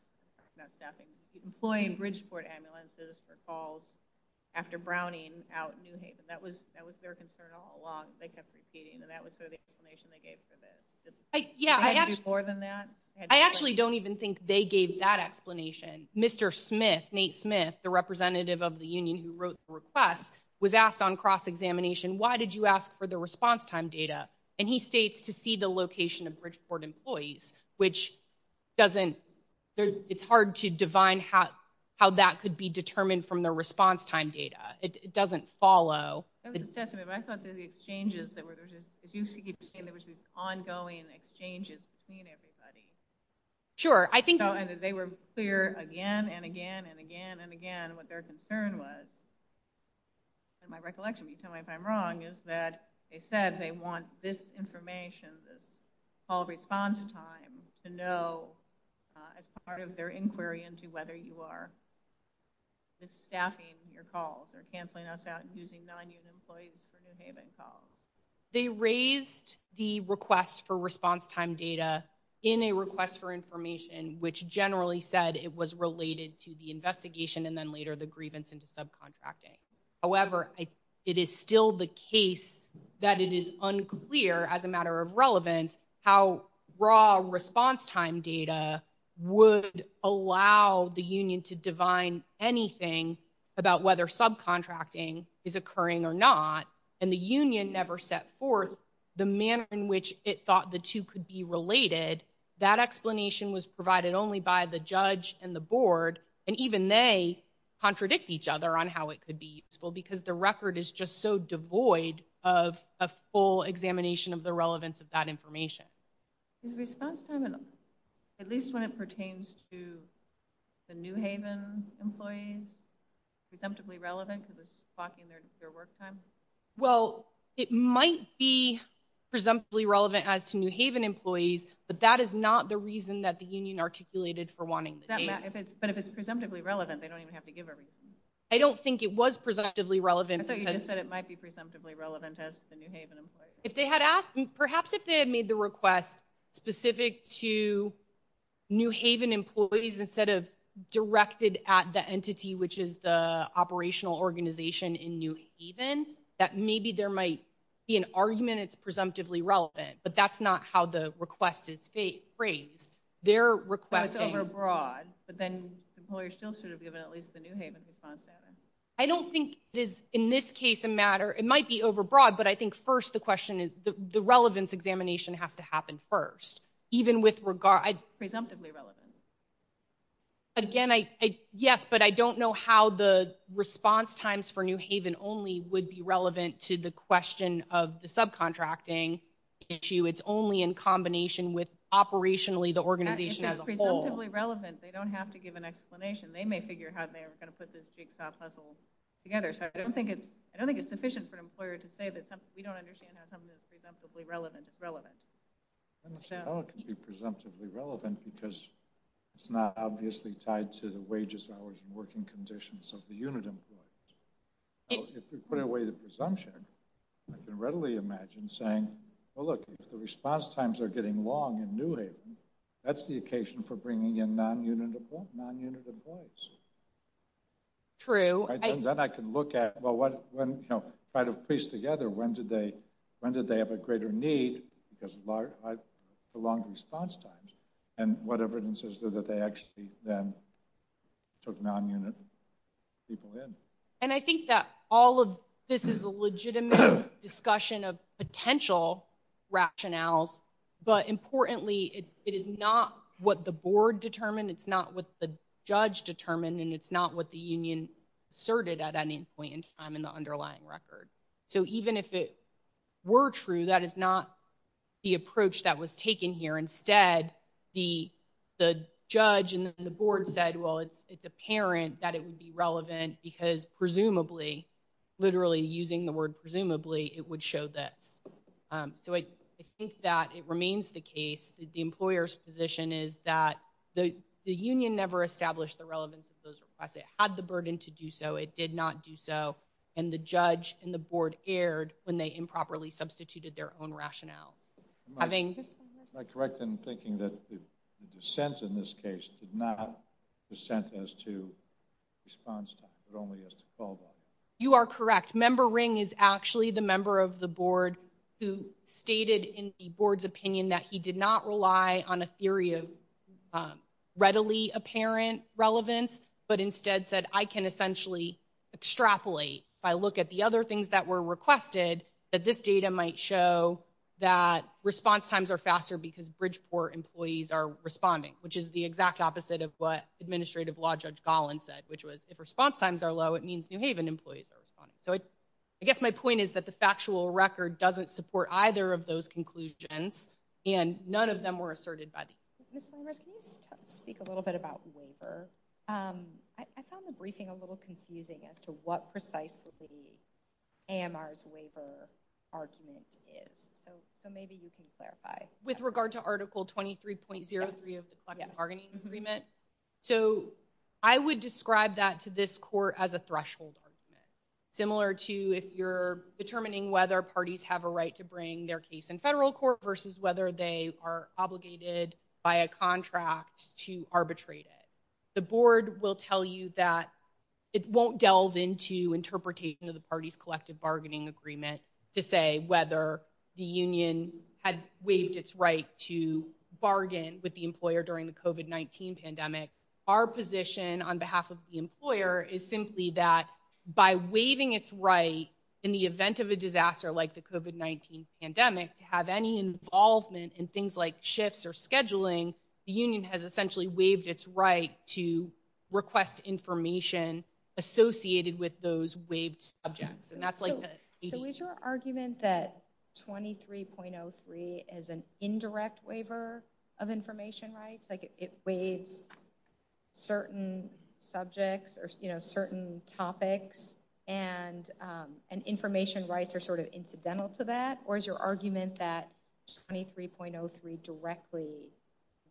employing Bridgeport ambulances for calls after Browning out in New Haven. That was, that was their concern all along. They kept repeating that that was sort of the explanation they gave for this. Yeah. I actually don't even think they gave that explanation. Mr. Smith, Nate Smith, the representative of the union who wrote the request was asked on cross examination. Why did you ask for the response time data? And he states to see the location of Bridgeport employees, which doesn't, it's hard to divine how, how that could be determined from the response time data. It doesn't follow. I thought that the exchanges that were just, if you could just say there was ongoing exchanges between everybody. Sure. I think they were clear again and again and again and again what their concern was. And my recollection, you tell me if I'm wrong, is that they said they want this information, all response time to know as part of their inquiry into whether you are just staffing your calls or canceling us out and using non-union employees for their payment calls. They raised the request for response time data in a request for information, which generally said it was related to the investigation and then later the grievance into subcontracting. However, it is still the case that it is unclear as a matter of relevance how raw response time data would allow the union to divine anything about whether subcontracting is occurring or not. And the union never set forth the manner in which it thought the two could be related. That explanation was provided only by the judge and the board. And even they contradict each other on how it could be useful because the record is just so devoid of a full examination of the relevance of that information. At least when it pertains to the New Haven employees, presumptively relevant to the clocking their work time. Well, it might be presumptively relevant as to New Haven employees, but that is not the reason that the union articulated for wanting the data. But if it's presumptively relevant, they don't even have to give everything. I don't think it was presumptively relevant. I thought you just said it might be presumptively relevant as to the New Haven employees. If they had asked, perhaps if they had made the request specific to New Haven employees instead of directed at the entity, which is the operational organization in New Haven, that maybe there might be an argument it's presumptively relevant. But that's not how the request is phrased. They're requesting abroad. But then employers still should have given at least the New Haven response data. I don't think in this case, it might be overbroad, but I think first the question is the relevance examination has to happen first, even with regard... It's presumptively relevant. Again, yes, but I don't know how the response times for New Haven only would be relevant to the question of the subcontracting issue. It's only in combination with operationally the organization as a whole. It's presumptively relevant. They don't have to give an explanation. They may figure out they're going to put this jigsaw puzzle together. I don't think it's sufficient for an employer to say that we don't understand how something is presumptively relevant. It's relevant. I don't know how it can be presumptively relevant because it's not obviously tied to the wages, hours, and working conditions of the unit employees. If we put away the presumption, I can readily imagine saying, well, look, if the response times are getting long in New Haven, that's the occasion for bringing in non-unit employees. True. Then I can look at, well, when, you know, try to piece together when did they have a greater need because of the long response times and what evidence is there that they actually then took non-unit people in. And I think that all of this is a legitimate discussion of potential rationales. But importantly, it is not what the board determined. It's not what the judge determined. And it's not what the union asserted at any point in time in the underlying record. So even if it were true, that is not the approach that was taken here. Instead, the judge and the board said, well, it's apparent that it would be relevant because presumably, literally using the word presumably, it would show that. So I think that it remains the case that the employer's position is that the union never established the relevance of those requests. It had the burden to do so. It did not do so. And the judge and the board erred when they improperly substituted their own rationale. Am I correct in thinking that the dissent in this case did not dissent as to response time, but only as to fallback? You are correct. Member Ring is actually the member of the board who stated in the board's opinion that he did not rely on a theory of readily apparent relevance, but instead said, I can essentially extrapolate if I look at the other things that were requested, that this data might show that response times are faster because Bridgeport employees are responding, which is the exact opposite of what Administrative Law Judge Gollin said, which was if response times are low, it means New Haven employees are responding. So I guess my point is that the factual record doesn't support either of those conclusions, and none of them were asserted by the union. Ms. Congress, speak a little bit about waiver. I found the briefing a little confusing as to what precisely AMR's waiver argument is. So maybe you can clarify. With regard to Article 23.03 of the bargaining agreement. So I would describe that to this court as a threshold. Similar to if you're determining whether parties have a right to bring their case in federal court versus whether they are obligated by a contract to arbitrate it. The board will tell you that it won't delve into interpretation of the party's collective bargaining agreement to say whether the union had waived its right to bargain with the employer during the COVID-19 pandemic. Our position on behalf of the employer is simply that by waiving its right in the event of a disaster like the COVID-19 pandemic to have any involvement in things like shifts or scheduling, the union has essentially waived its right to request information associated with those waived subjects. And that's like the... So is your argument that 23.03 is an indirect waiver of information rights? Like it waives certain subjects or certain topics and information rights are sort of incidental to that? Or is your argument that 23.03 directly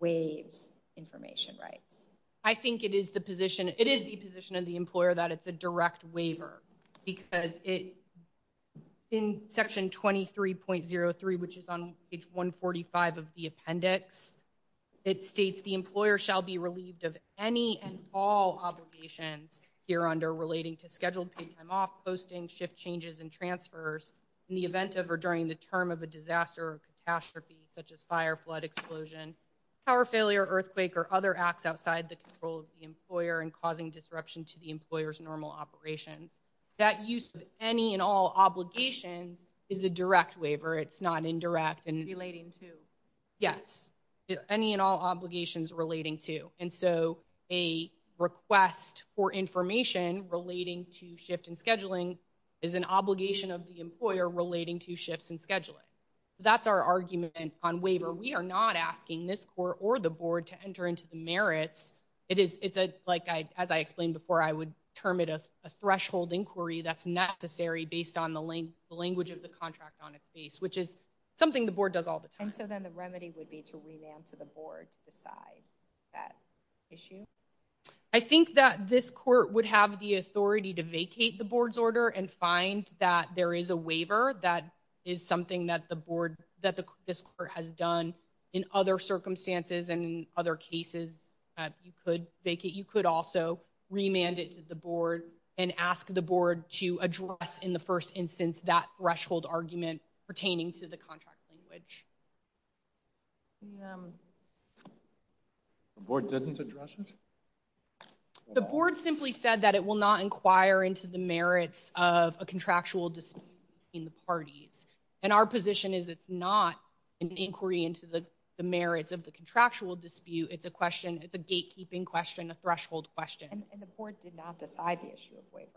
waives information rights? I think it is the position. It is the position of the employer that it's a direct waiver because in section 23.03, which is on page 145 of the appendix, it states the employer shall be relieved of any and all obligations here under relating to scheduled paid time off, posting shift changes and transfers in the event of or during the term of a disaster or catastrophe, such as fire, flood, explosion, power failure, earthquake, or other acts outside the control of the employer and causing disruption to the employer's normal operations. That use of any and all obligation is a direct waiver. It's not indirect and... Relating to? Yes, any and all obligations relating to. And so a request for information relating to shift and scheduling is an obligation of the employer relating to shifts and scheduling. That's our argument on waiver. We are not asking this court or the board to enter into the merits. It is like, as I explained before, I would term it as a threshold inquiry that's necessary based on the language of the contract on its face, which is something the board does all the time. And so then the remedy would be to remand to the board beside that issue? I think that this court would have the authority to vacate the board's order and find that there is a waiver. That is something that the board, that this court has done in other circumstances and in other cases that you could vacate. You could also remand it to the board and ask the board to address in the first instance that threshold argument pertaining to the contract language. The board didn't address it? The board simply said that it will not inquire into the merits of a contractual dispute in the parties. And our position is it's not an inquiry into the merits of the contractual dispute. It's a question, it's a gatekeeping question, a threshold question. And the board did not decide the issue of waiver?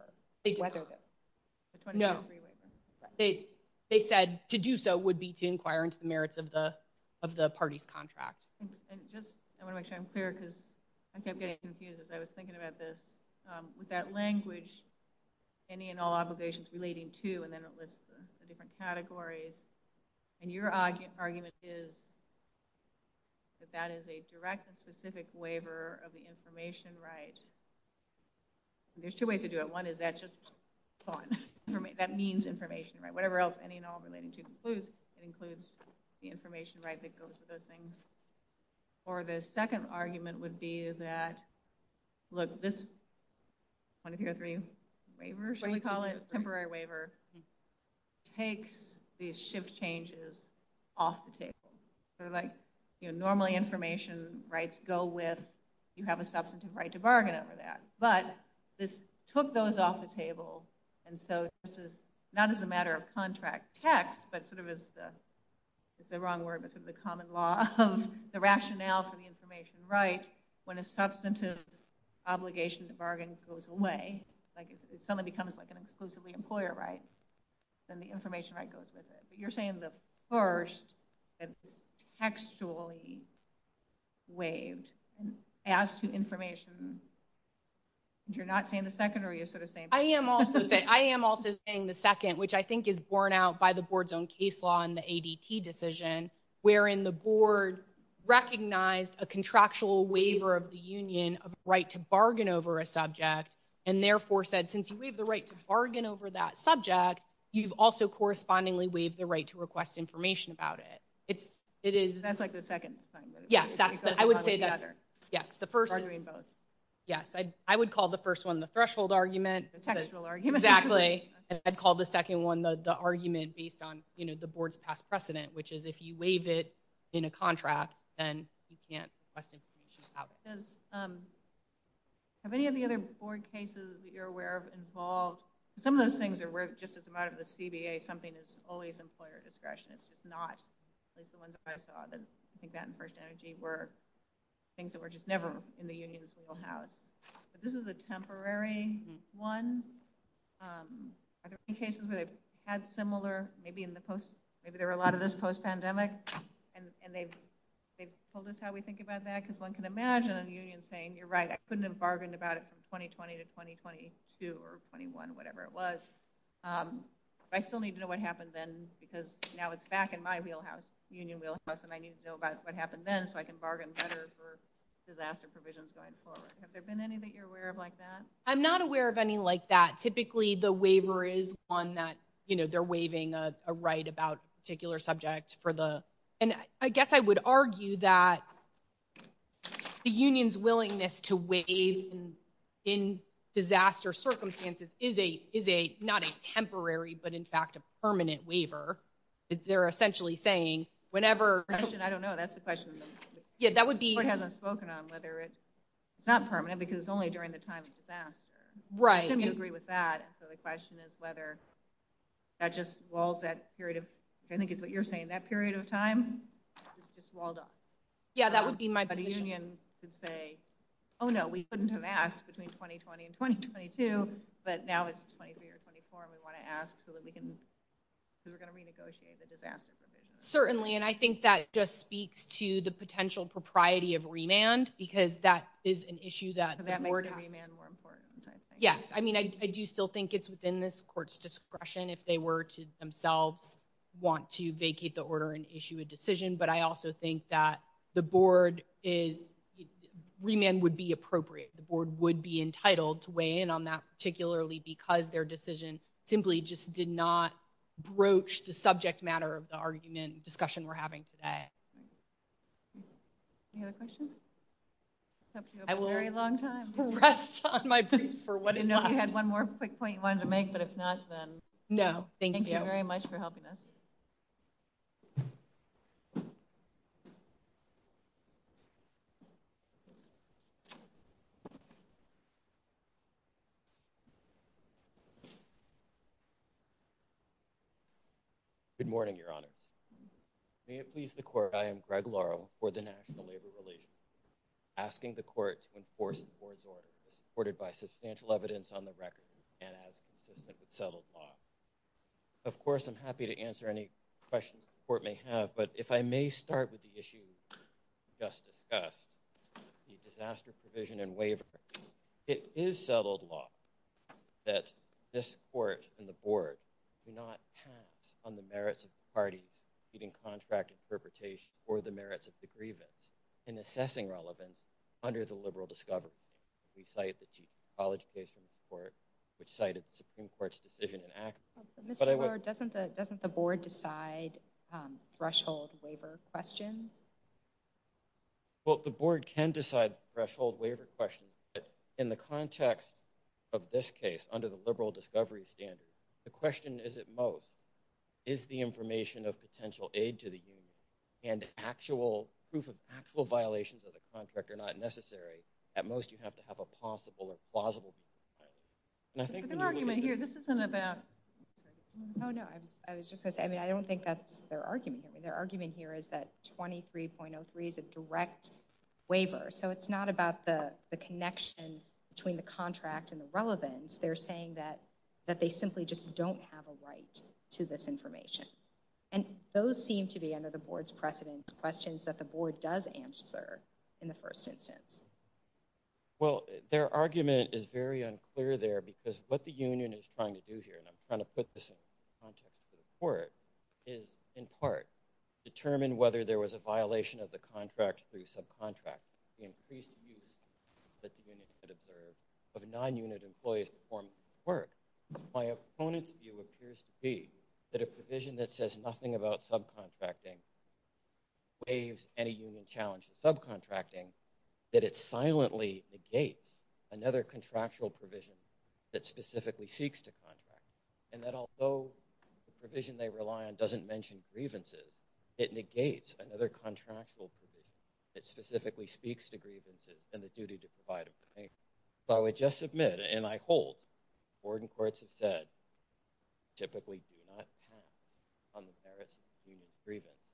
They said to do so would be to inquire into the merits of the party's contract. I want to make sure I'm clear because I kept getting confused as I was thinking about this. With that language, any and all obligations relating to, and then it lists the different categories. And your argument is that that is a direct and specific waiver of the information right. There's two ways to do it. One is that just, that means information right. Whatever else any and all relating to includes the information right that goes with those things. Or the second argument would be that, look, this 2003 waiver, should we call it, temporary waiver, takes these shift changes off the table. Sort of like, you know, normally information rights go with, you have a substantive right to bargain over that. But this took those off the table. And so this is not as a matter of contract text, but sort of as the, it's the wrong word, but sort of the common law of the rationale for the information right when a substantive obligation to bargain goes away. Like it suddenly becomes like an exclusively employer right. Then the information right goes with it. But you're saying the first is textually waived as to information. You're not saying the second or you're sort of saying. I am also saying the second, which I think is borne out by the board's own case law and the ADT decision, wherein the board recognized a contractual waiver of the union of right to bargain over a subject. And therefore said, since you leave the right to bargain over that subject, you've also correspondingly waived the right to request information about it. It's, it is. That's like the second time. Yes, I would say the other. Yes, the first. Yes. I would call the first one the threshold argument. Exactly. And I'd call the second one, the argument based on, you know, the board's past precedent, which is if you waive it in a contract, then you can't request information about it. Does, have any of the other board cases that you're aware of involved? Some of those things are, just as a matter of the CBA, something that's only at the employer discretion. It's not like the one that I saw. Then I think that in First Energy were things that were just never in the union's wheelhouse. But this is a temporary one. Are there any cases where they've had similar, maybe in the post, maybe there were a lot of this post-pandemic and they've pulled us how we think about that? Because one can imagine a union saying, you're right, I couldn't have bargained about it from 2020 to 2022 or 21, whatever it was. I still need to know what happened then because now it's back in my wheelhouse, union wheelhouse, and I need to know about what happened then so I can bargain better for disaster provisions going forward. Have there been any that you're aware of like that? I'm not aware of any like that. Typically the waiver is one that, you know, they're waiving a right about a particular subject and I guess I would argue that the union's willingness to waive in disaster circumstances is not a temporary, but in fact, a permanent waiver. They're essentially saying whenever, I don't know, that's the question. Yeah, that would be... The board hasn't spoken on whether it's not permanent because it's only during the time of disaster. Right. I think we can agree with that. So the question is whether that just walls that period of, I think it's what you're saying, that period of time. It's walled up. Yeah, that would be my position. But a union could say, oh no, we couldn't have asked between 2020 and 2022, but now it's 23 or 24 and we want to ask so we're going to renegotiate the disaster provisions. Certainly, and I think that just speaks to the potential propriety of remand because that is an issue that... That makes board and remand more important, I think. Yes, I mean, I do still think it's within this court's discretion if they were to themselves want to vacate the order and issue a decision. But I also think that the board is... Remand would be appropriate. The board would be entitled to weigh in on that, particularly because their decision simply just did not broach the subject matter of the argument discussion we're having today. Any other questions? I will rest on my boots for what it is. I know you had one more quick point you wanted to make, but if not, then... No, thank you. Thank you very much for helping us. Good morning, Your Honor. May it please the court, I am Greg Laurel for the National Labor Relations. Asking the court to enforce the board's order is supported by substantial evidence on the record and as the submitted settled law. Of course, I'm happy to answer any questions the court may have, but if I may start with the issue we just discussed, the disaster provision and waiver. It is settled law that this court and the board do not count on the merits of the party meeting contract interpretation or the merits of the grievance in assessing relevance under the liberal discovery. We cite the college-based report which cited the Supreme Court's decision in action. Mr. Laurel, doesn't the board decide threshold waiver questions? Well, the board can decide threshold waiver questions, but in the context of this case under the liberal discovery standard, the question is at most, is the information of potential aid to the union and actual proof of actual violations of the contract are not necessary? At most, you have to have a possible or plausible. There's an argument here. This isn't about... Oh, no, I was just going to say, I mean, I don't think that's their argument. Their argument here is that 23.03 is a direct waiver, so it's not about the connection between the contract and the relevance. They're saying that they simply just don't have a right to this information, and those seem to be under the board's precedence questions that the board does answer in the first instance. Well, their argument is very unclear there because what the union is trying to do here, and I'm trying to put this in the context of the report, is in part determine whether there was a violation of the contract through subcontracts. The increased use that the union could observe of non-unit employees performance at work. My opponent's view appears to be that a provision that says nothing about subcontracting waives any union challenge in subcontracting that it silently negates another contractual provision that specifically seeks to contract, and that although the provision they rely on doesn't mention grievances, it negates another contractual provision that specifically speaks to grievances and the duty to provide a payment. So I would just submit, and I hold, the board and courts have said typically do not count on the merits of receiving a grievance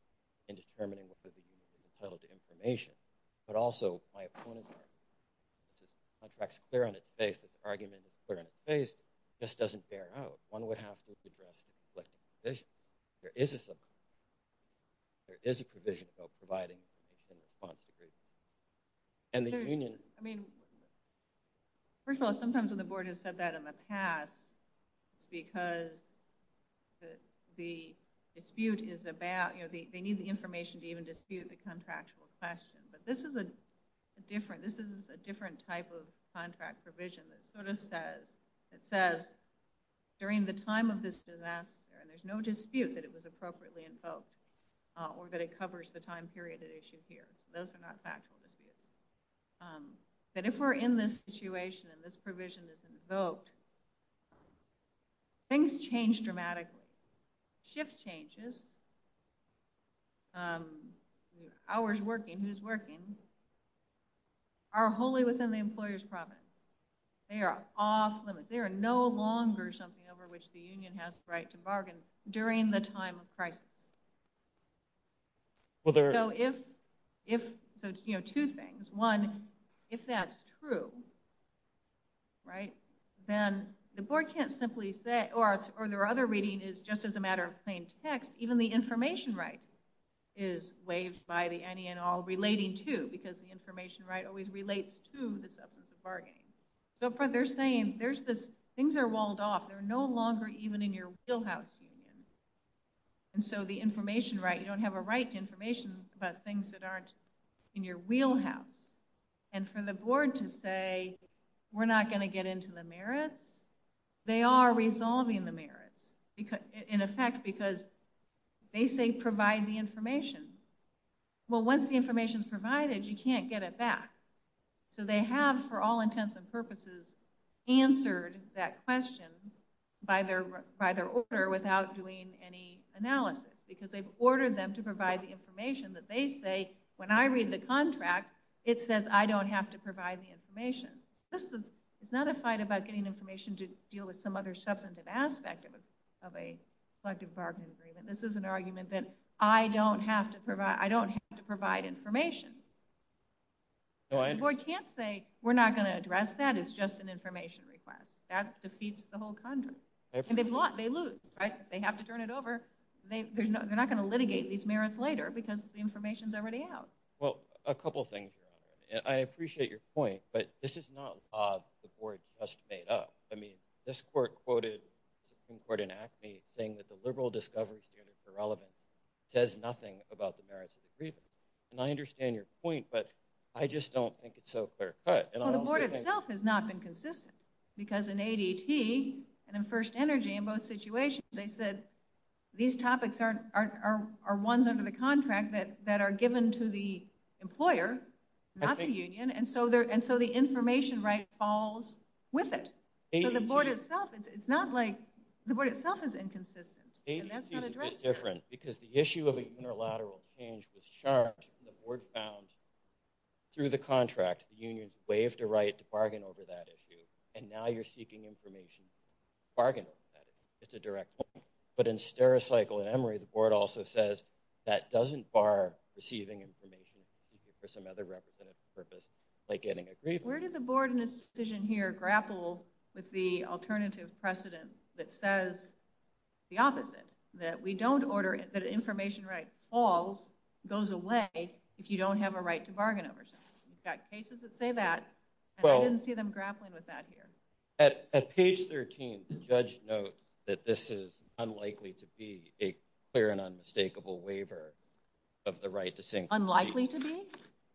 in determining the provisions in the settled information, but also my opponent, contracts clear on its face, if the argument is clear on its face, just doesn't bear out. One would have to address the conflict of provision. There is a subcontracting, there is a provision about providing a subcontracting. And the union, I mean, first of all, sometimes when the board has said that in the past, because the dispute is about, you know, they need the information to even dispute the contractual questions. But this is a different, this is a different type of contract provision that sort of says, it says during the time of this disaster, there's no dispute that it was appropriately invoked or that it covers the time period at issue here. Those are not factual disputes. But if we're in this situation and this provision is invoked, things change dramatically. Shift changes. Hours working, who's working, are wholly within the employer's promise. They are off limits. They are no longer something over which the union has the right to bargain during the time of crisis. So if, you know, two things. One, if that's true, right, then the board can't simply say, or their other reading is just as a matter of plain text, even though the board and the information right is waived by the any and all relating to, because the information right always relates to the bargaining. So they're saying there's this, things are walled off. They're no longer even in your wheelhouse union. And so the information right, you don't have a right to information about things that aren't in your wheelhouse. And for the board to say, we're not going to get into the merit, they are resolving the merit in effect, because they say, provide the information. Well, once the information is provided, you can't get it back. So they have, for all intents and purposes, answered that question by their order without doing any analysis, because they've ordered them to provide the information that they say, when I read the contract, it says I don't have to provide the information. This is not a fight about getting information to deal with some other substantive aspect of a collective bargaining agreement. This is an argument that I don't have to provide, I don't have to provide information. The board can't say, we're not going to address that, it's just an information request. That defeats the whole contract. And they've lost, they lose, right? They have to turn it over. They're not going to litigate these merits later, because the information is already out. Well, a couple of things. I appreciate your point, but this is not a law the board just made up. I mean, this court quoted Supreme Court in Acme saying that the liberal discovery here is irrelevant. It says nothing about the merits of the agreement. And I understand your point, but I just don't think it's so clear-cut. Well, the board itself has not been consistent. Because in ADT, and in First Energy, in both situations, they said these topics are ones under the contract that are given to the employer, not the union. And so the information right falls with it. So the board itself, it's not like, the board itself is inconsistent. And that's not a great thing. Because the issue of an interlateral change was charged, the board found through the contract, the unions waived a right to bargain over that issue. And now you're seeking information to bargain over that. It's a direct point. But in Stericycle and Emory, the board also says that doesn't bar receiving information for some other representative purpose, like getting a grievance. Where did the board in this decision here grapple with the alternative precedent that says the opposite, that we don't order it, that information right falls, goes away, if you don't have a right to bargain over something. We've got cases that say that. I didn't see them grappling with that here. At page 13, the judge notes that this is unlikely to be a clear and unmistakable waiver of the right to sink. Unlikely to be?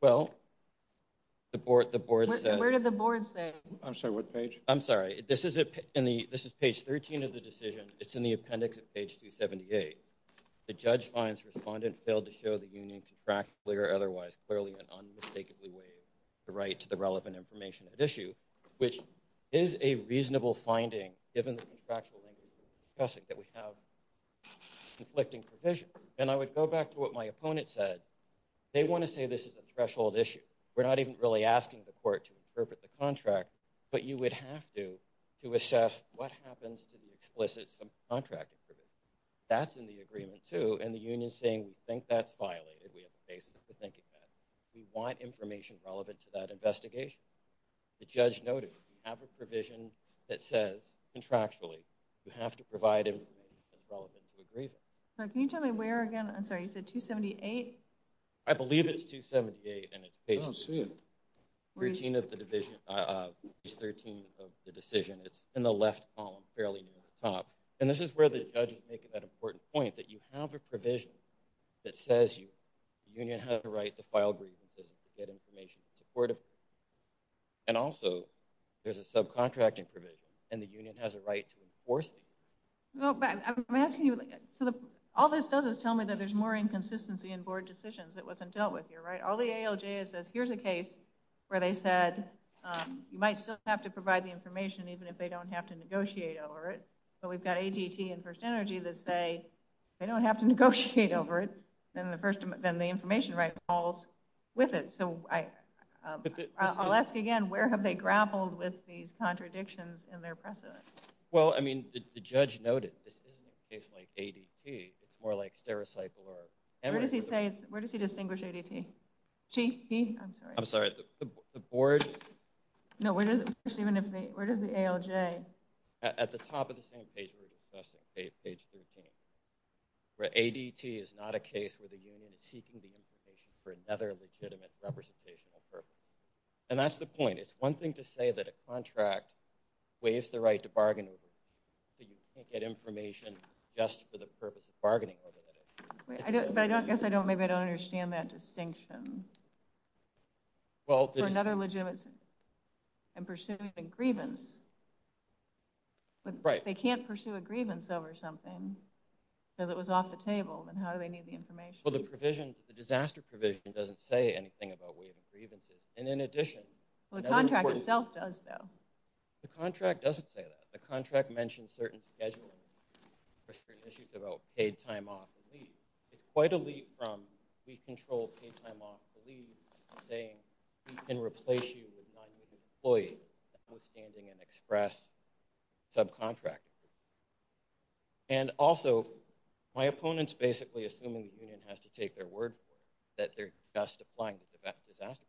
Well, the board said. Where did the board say? I'm sorry, what page? I'm sorry. This is page 13 of the decision. It's in the appendix of page 278. The judge finds respondent failed to show the union to track clear, otherwise clearly and unmistakably waive the right to the relevant information at issue, which is a reasonable finding given the contractual language that we have conflicting provision. And I would go back to what my opponent said. They want to say this is a threshold issue. We're not even really asking the court to interpret the contract, but you would have to, to assess what happens to the explicit contract. That's in the agreement, too. And the union saying think that's violated. We have a case to think about. We want information relevant to that investigation. The judge noted after provision that says contractually, you have to provide him with relevant agreement. Can you tell me where again? I'm sorry, you said 278. I believe it's 278. And it's a routine of the division of the decision. It's in the left column, fairly top. And this is where the judge is making that important point that you have a provision that says you union have the right to file briefings to get information supportive. And also there's a subcontracting provision and the union has a right to enforce it. Well, I'm asking you all this doesn't tell me that there's more inconsistency in board decisions that wasn't dealt with here, right? All the ALJ says, here's a case. Where they said, you might still have to provide the information, even if they don't have to negotiate over it. So we've got ADT and First Energy that say they don't have to negotiate over it. And the first, then the information right falls with it. So I'll ask again, where have they grappled with these contradictions in their precedent? Well, I mean, the judge noted this isn't a case like ADT. It's more like Sarasite Alert. And where does he say, where does he distinguish ADT? Chief, I'm sorry. The board. No, where does the ALJ? At the top of the same page. Where ADT is not a case where the union is seeking the information for another legitimate representation of purpose. And that's the point. It's one thing to say that a contract waives the right to bargain. So you can't get information just for the purpose of bargaining over it. I don't guess I don't, maybe I don't understand that distinction. For another legitimate and pursuing a grievance. They can't pursue a grievance over something because it was off the table. And how do they need the information? Well, the provision, the disaster provision doesn't say anything about waiving grievances. And in addition. Well, the contract itself does though. The contract doesn't say that. The contract mentioned certain scheduling issues about paid time off and leave. It's quite a leap from we control paid time off saying we can replace you with not your employee withstanding an express subcontract. And also my opponents basically assuming the union has to take their word for it that they're just applying to that disaster.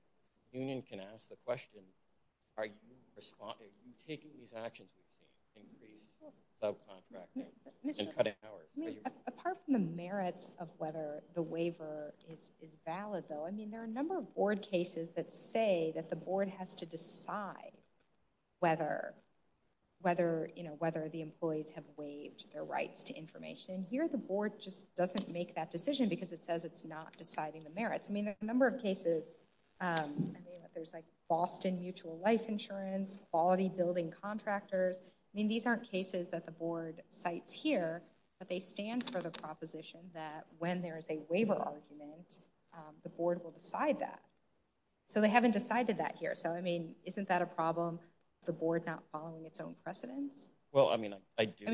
Union can ask the question, are you taking these actions to increase subcontracting? Apart from the merits of whether the waiver is valid though, there are a number of board cases that say that the board has to decide whether the employees have waived their rights to information. Here the board just doesn't make that decision because it says it's not deciding the merits. I mean, there's a number of cases. There's like Boston mutual life insurance, quality building contractors. I mean, these aren't cases that the board sites here, but they stand for the proposition that when there is a waiver argument, the board will decide that. So they haven't decided that here. So, I mean, isn't that a problem? The board not following its own precedent? Well, I mean,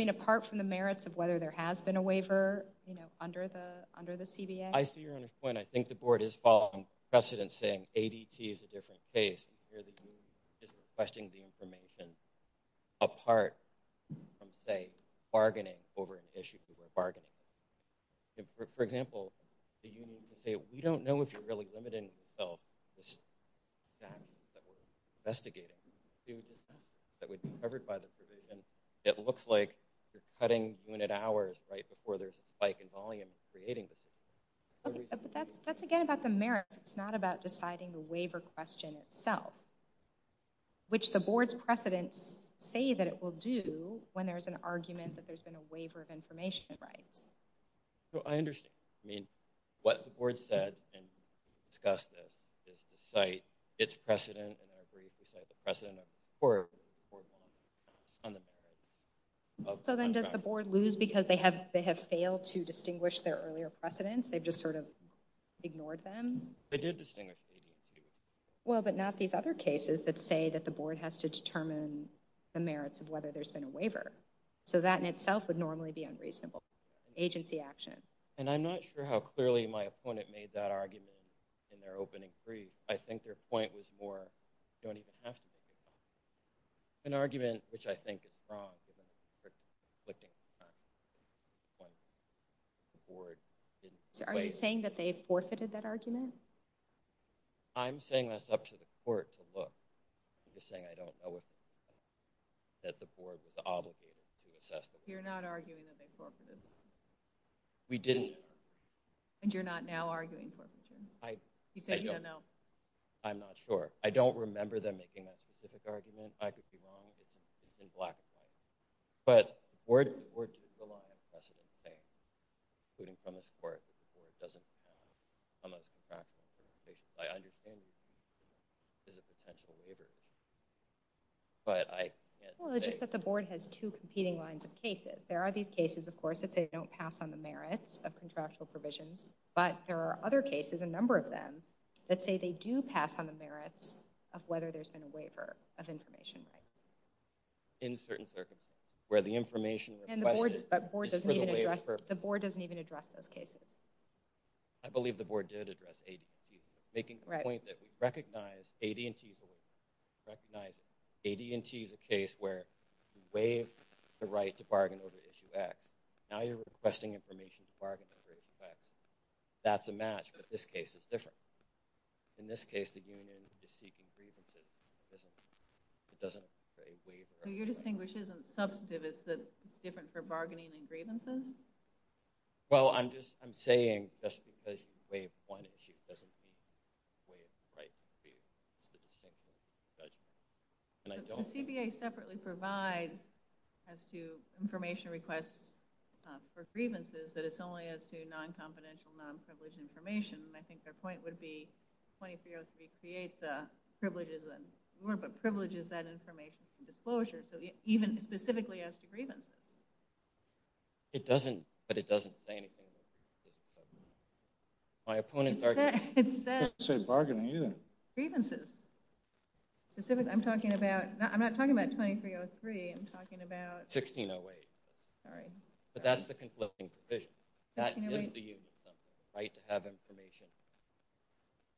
apart from the merits of whether there has been a waiver, you know, under the CDA. I see your point. I think the board is following precedent saying ADT is a different case. Questioning the information apart from say bargaining over an issue for bargaining. And for example, we don't know if you're really limited. It looks like you're cutting minute hours right before there's spike in volume creating. That's again about the merits. It's not about deciding the waiver question itself. Which the board's precedent say that it will do when there's an argument that there's been a waiver of information, right? So I understand, I mean, what the board said and discussed this is the site, its precedent, and I agree with the site, the precedent of the board. So then does the board lose because they have failed to distinguish their earlier precedents? They just sort of ignored them. Well, but not these other cases that say that the board has to determine the merits of whether there's been a waiver. So that in itself would normally be unreasonable. Agency action. And I'm not sure how clearly my opponent made that argument in their opening brief. I think their point was more. An argument, which I think is wrong. Are you saying that they forfeited that argument? I'm saying that's up to the court to look. I'm just saying I don't know. You're not arguing that they forfeited? We didn't. And you're not now arguing? I'm not sure. I don't remember them making a specific argument. I could be wrong in black. But the board took so long. I'm guessing the same. Including some of the support. I understand. But I just said the board has two competing lines of cases. There are these cases, of course, that they don't pass on the merits of contractual provisions. But there are other cases, a number of them that say they do pass on the merits of whether there's been a waiver of information. In certain circumstances where the information. The board doesn't even address those cases. I believe the board did address. Making the point that we recognize AD&T recognized AD&T is a case where we waive the right to bargain over issue X. Now you're requesting information to bargain over issue X. That's a match, but this case is different. In this case, the union is seeking grievances. It doesn't say waiver. So your distinguish isn't substantive. It's that it's different for bargaining and grievances? Well, I'm just I'm saying just because you waive one issue doesn't mean you waive the right. But the CBA separately provides as to information request for grievances, that it's only as to non-confidential, non-privileged information. And I think their point would be 2303 creates the privileges and privileges that information disclosure, so even specifically as to grievance. It doesn't, but it doesn't say anything. My point is that it says bargaining grievances. I'm talking about I'm not talking about 2303. I'm talking about 1608. Sorry, but that's the conclusion. That is the right to have information.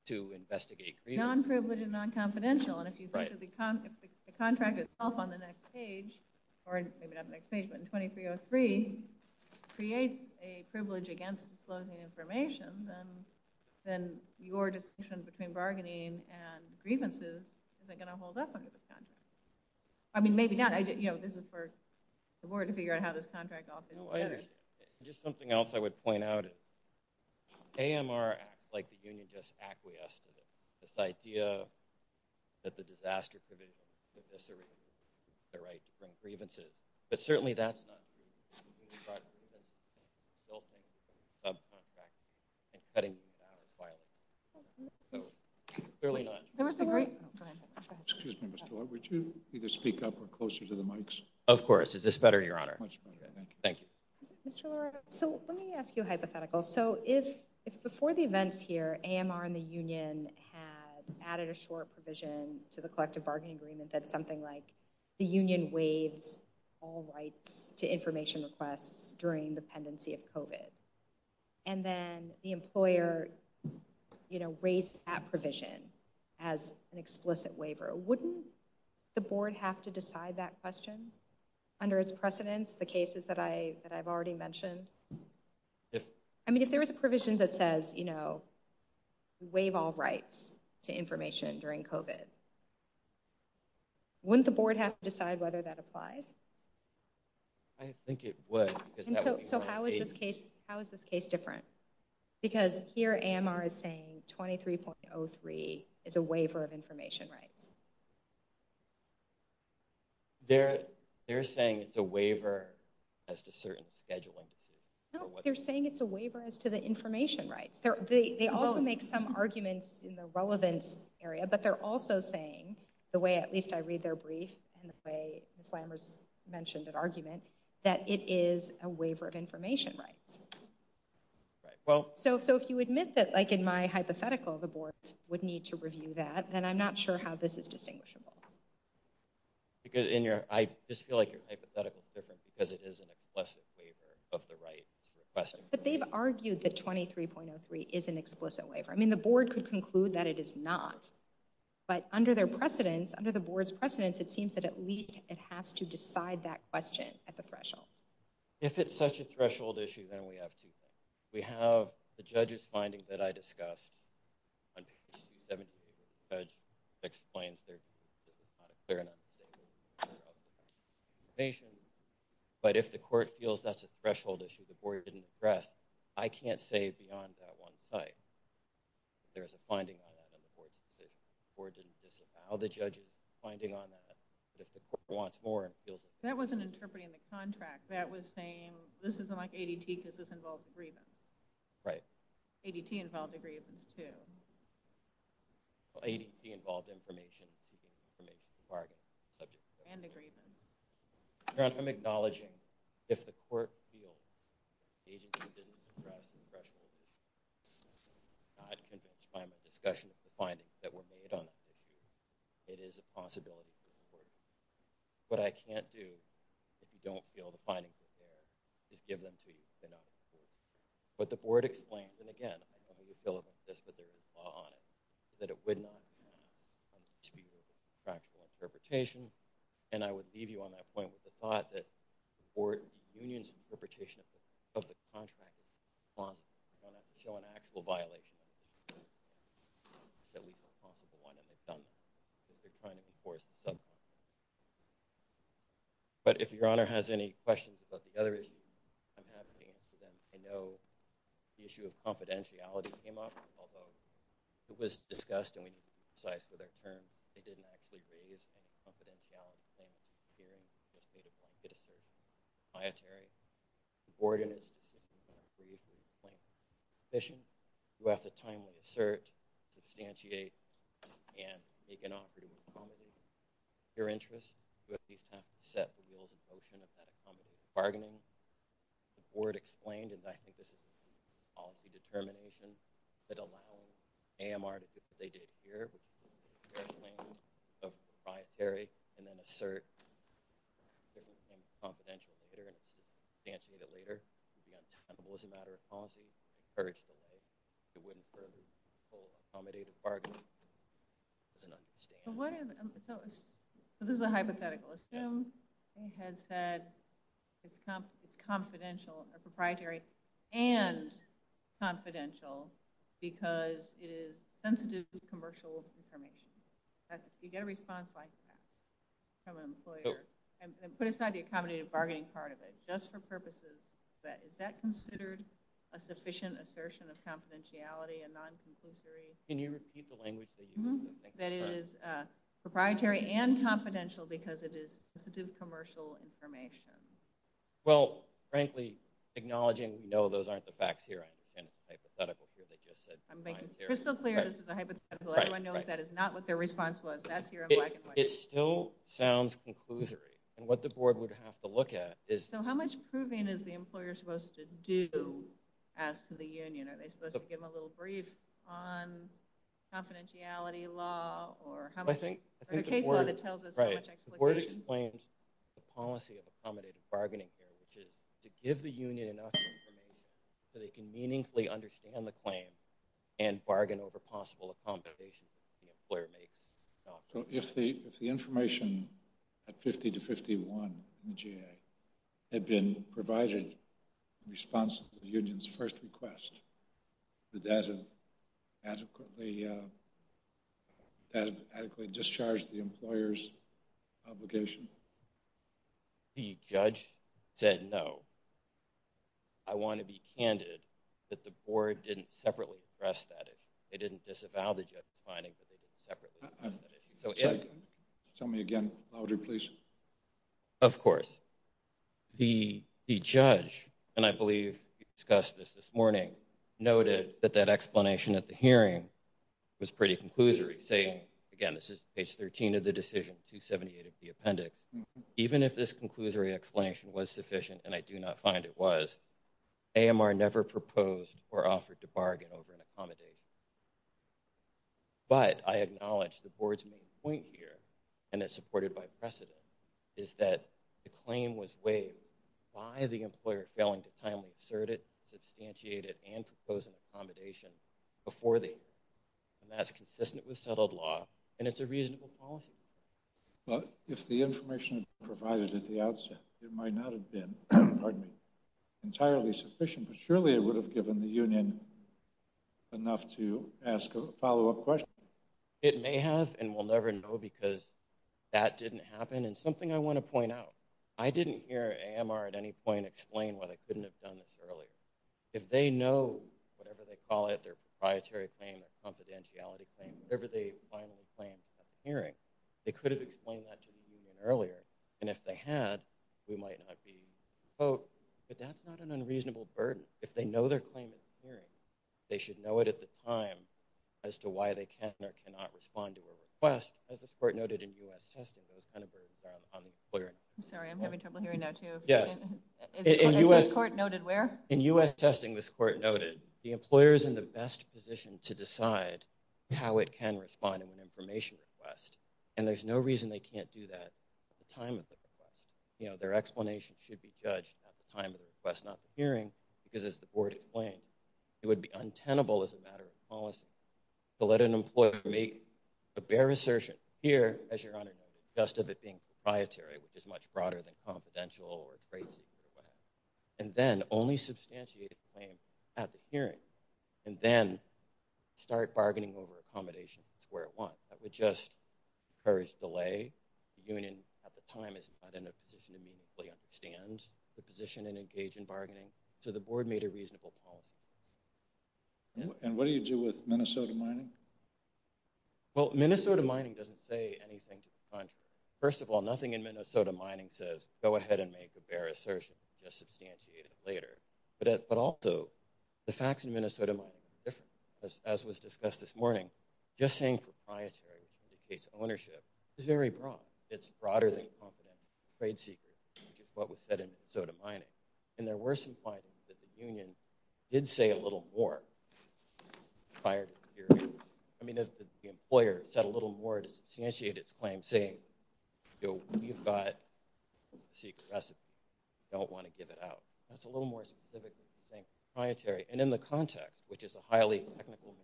To investigate non-privileged, non-confidential, and if you go to the contract itself on the next page, or maybe not the next page, but 2303 creates a privilege against disclosing information, then your distinction between bargaining and grievances is going to hold up. I mean, maybe not. This is for the board to figure out how this contract operates. Well, just something else I would point out. AMR, like the union, just acquiesced to this idea that the Disaster Provision would necessarily be the right to bring grievances, but certainly that's not true. It starts with building subcontracts and cutting them out. Clearly not. Excuse me, Mr. Lord, would you either speak up or closer to the mics? Of course, is this better, Your Honor? Thank you. Mr. Lord, so let me ask you a hypothetical. So if before the events here, AMR and the union had added a short provision to the collective bargaining agreement that something like the union waived all rights to information requests during the pendency of COVID, and then the employer raised that provision as an explicit waiver, wouldn't the board have to decide that question under its precedence, the cases that I've already mentioned? I mean, if there was a provision that says, you know, waive all rights to information during COVID, wouldn't the board have to decide whether that applies? I think it would. So how is this case different? Because here, AMR is saying 23.03 is a waiver of information rights. They're saying it's a waiver as to certain scheduling. No, they're saying it's a waiver as to the information rights. They all make some arguments in the relevance area, but they're also saying, the way at least I read their brief and the way Ms. Lammers mentioned that argument, that it is a waiver of information rights. So if you admit that, like in my hypothetical, the board would need to review that, then I'm not sure how this is distinguishable. Because I just feel like your hypothetical is different because it is an explicit waiver of the right to request it. But they've argued that 23.03 is an explicit waiver. I mean, the board could conclude that it is not, but under their precedence, under the board's precedence, it seems that at least it has to decide that question at the threshold. If it's such a threshold issue, then we have to. We have the judge's findings that I discussed. Explains their, but if the court feels that's a threshold issue, the board didn't press, I can't say beyond that one site. If there's a finding, how the judge is finding on that, if the court wants more. That wasn't interpreting the contract. That was saying, this isn't like ADT because this involves grievance. Right. ADT involves a grievance too. Well, ADT involves information. Information is a bargain. And a grievance. Karen, I'm acknowledging if the court feels the agency didn't press the threshold issue, I can't just find a discussion of the findings that were made on it. It is a possibility. What I can't do, if you don't feel the findings are there, just give them to you. But the board explains, and again, I'm not going to go into this, but there's a law on it, that it would not be an actual interpretation. And I would leave you on that point with the thought that the board's unions interpretation of the contract don't have to show an actual violation. But if your honor has any questions about the other issues, I know the issue of confidentiality came up, although it was discussed and we didn't criticize for their terms, they didn't actually raise a confidentiality issue here. The board has a timely search, substantiate, and make an offer to accommodate your interest with the attempt to set the rules of motion and accommodate bargaining. The board explained, and I think this is a policy determination, that allows AMR to do what they did here, which is to congressionalize proprietary and then assert confidentiality. They're going to answer that later. Again, it wasn't a matter of policy, it was encouraged by the board. It wouldn't really be for accommodating bargaining. It's an understatement. So this is a hypothetical. Assume they had said it's confidential, a proprietary and confidential because it is sensitive to commercial information. You get a response like that from an employer. And put aside the accommodative bargaining part of it, just for purposes. But is that considered a sufficient assertion of confidentiality and non-competitory? Can you repeat the language? That it is proprietary and confidential because it is sensitive to commercial information. Well, frankly, acknowledging we know those aren't the facts here, it's a hypothetical here. They just said... I'm making crystal clear this is a hypothetical. Everyone knows that is not what their response was. That's your question. It still sounds conclusory. And what the board would have to look at is... So how much proving is the employer supposed to do as to the union? Are they supposed to give them a little brief on confidentiality law? Or how much... I think the board explains the policy of accommodative bargaining here, which is to give the union enough information so they can meaningfully understand the claim and bargain over possible accommodations. So if the information at 50 to 51 in GA had been provided in response to the union's first request, would that have adequately discharged the employer's obligation? The judge said no. I want to be candid that the board didn't separately address that issue. They didn't disavow the judge's finding that it was a separate issue. So if... Tell me again louder, please. Of course. The judge, and I believe he discussed this this morning, noted that that explanation at the hearing was pretty conclusory, saying, again, this is page 13 of the decision, 278 of the appendix. Even if this conclusory explanation was sufficient, and I do not find it was, AMR never proposed or offered to bargain over an accommodation. But I acknowledge the board's main point here, and it's supported by precedent, is that the claim was waived by the employer failing to timely assert it, substantiate it, and propose an accommodation before the hearing. And that's consistent with settled law, and it's a reasonable policy. If the information was provided at the outset, it might not have been pardon me, entirely sufficient, but surely it would have given the union enough to ask a follow-up question. It may have, and we'll never know, because that didn't happen. And something I want to point out, I didn't hear AMR at any point explain why they couldn't have done this earlier. If they know, whatever they call it, their proprietary claim, their confidentiality claim, whatever they finally claim at the hearing, they could have explained that to the union earlier. And if they had, we might not be, but that's not an unreasonable burden. If they know their claim is hearing, they should know it at the time as to why they can or cannot respond to a request, as the court noted in U.S. testing, it was kind of a burden on the employer. I'm sorry, I'm having trouble hearing that too. Yes, in U.S. Court noted where? In U.S. testing, this court noted, the employer is in the best position to decide how it can respond to an information request. And there's no reason they can't do that at the time of the request. Their explanation should be judged at the time of the request, not the hearing, because as the board explained, it would be untenable as a matter of policy to let an employer make a bare assertion here, as your Honor noted, just of it being proprietary, which is much broader than confidential or crazy. And then only substantiate at the hearing, and then start bargaining over accommodation where it wants. That would just encourage delay. Union at the time is not in a position to be fully understand the position and engage in bargaining. So the board made a reasonable call. And what do you do with Minnesota mining? Well, Minnesota mining doesn't say anything. First of all, nothing in Minnesota mining says, go ahead and make the bare assertion and substantiate it later. But also the facts in Minnesota, as was discussed this morning, just saying proprietary indicates ownership is very broad. It's broader than trade secret. What was said in Minnesota mining and there were some findings that the union did say a little more. I mean, if the employer said a little more to instantiate its plan saying, you know, you've got. Don't want to give it out. That's a little more specific. Proprietary and in the context, which is a highly technical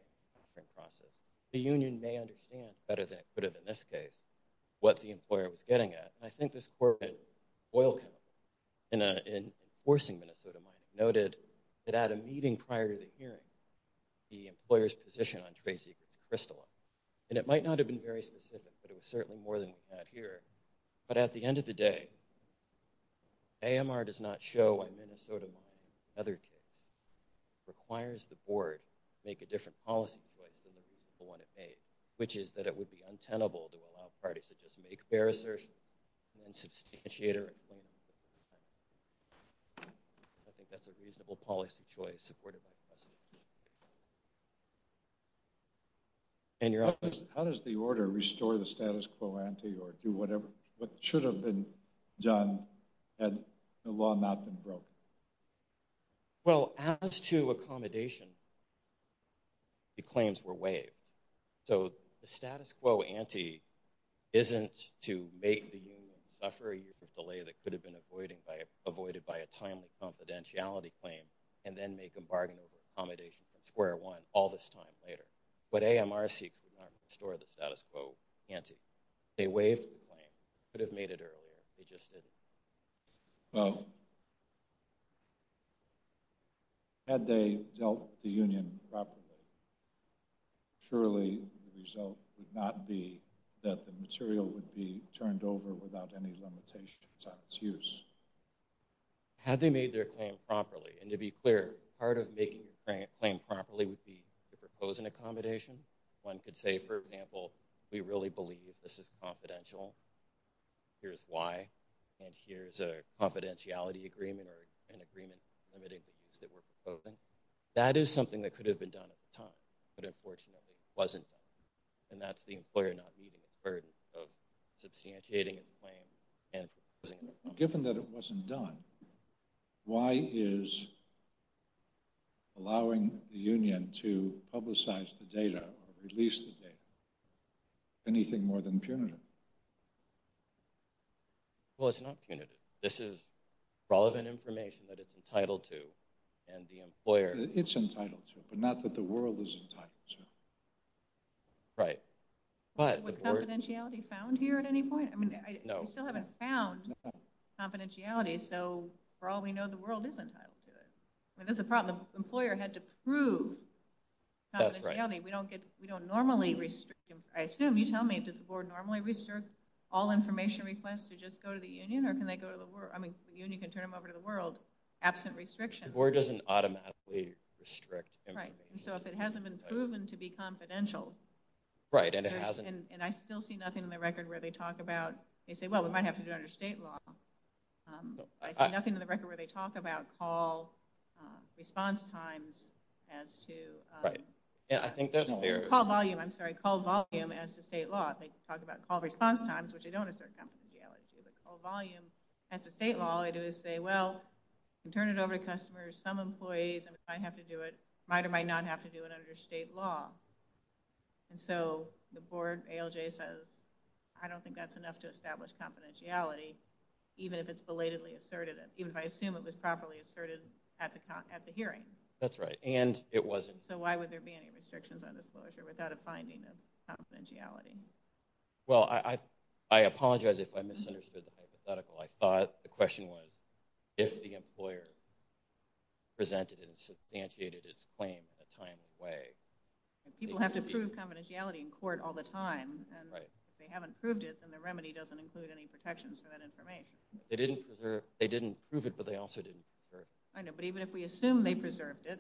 process, the union may understand better than it could have in this case. What the employer was getting at, I think this corporate oil. And in forcing Minnesota, I noted that at a meeting prior to the hearing. The employer's position on Tracy Crystal, and it might not have been very specific, but it was certainly more than that here. But at the end of the day. AMR does not show when Minnesota other. Requires the board make a different policy. Which is that it would be untenable to allow parties to just make their assertion. And substantiator. I think that's a reasonable policy choice. And you're up. How does the order restore the status quo, anti or do whatever? What should have been done? And the law not been broke. Well, as to accommodation. The claims were waived. So the status quo, anti isn't to make the buffer a delay that could have been avoiding by avoided by a time with confidentiality claim and then make a bargain of accommodation square one all this time later. But AMRC could not restore the status quo, anti a wave could have made it earlier. It just is. Had they dealt the union properly. Surely result would not be that the material would be turned over without any limitation. Had they made their claim properly and to be clear, part of making a claim properly would be proposing accommodation. One could say, for example, we really believe this is confidential. Here's why. And here's a confidentiality agreement or an agreement. That is something that could have been done at the time, but unfortunately it wasn't. And that's the employer not meeting the burden of substantiating a claim. Given that it wasn't done. Why is. Allowing the union to publicize the data, at least the data. Anything more than punitive. Well, it's not punitive. This is relevant information that it's entitled to and the employer. It's entitled to, but not that the world isn't. Right, but confidentiality found here at any point. I mean, I still haven't found. Confidentiality, so for all we know, the world isn't. That's a problem. Employer had to prove. We don't get. We don't normally restrict him. I assume you tell me that the board normally restricts all information requests to just go to the union or can they go to the world? I mean, you can turn him over to the world. Absent restriction or doesn't automatically restrict. So if it hasn't been proven to be confidential. Right, and it hasn't. And I still see nothing in the record where they talk about. They say, well, we might have to do under state law. Nothing in the record where they talk about call. Response times as to. Yeah, I think there's no call volume. I'm sorry. Call volume as the state law. They talk about call response times, which I don't. Call volume at the state law. I do is say, well, turn it over to customers. Some employees might have to do it. Might or might not have to do it under state law. And so the board says, I don't think that's enough to establish confidentiality, even if it's belatedly asserted. Even if I assume it was properly asserted at the hearing. That's right. And it wasn't. So why would there be any restrictions on disclosure without a finding of confidentiality? Well, I apologize if I misunderstood the hypothetical. I thought the question was. If the employer. Presented and substantiated its claim a time and way. People have to prove confidentiality in court all the time. And if they haven't proved it, then the remedy doesn't include any protections for that information. They didn't preserve. They didn't prove it, but they also didn't. But even if we assume they preserved it.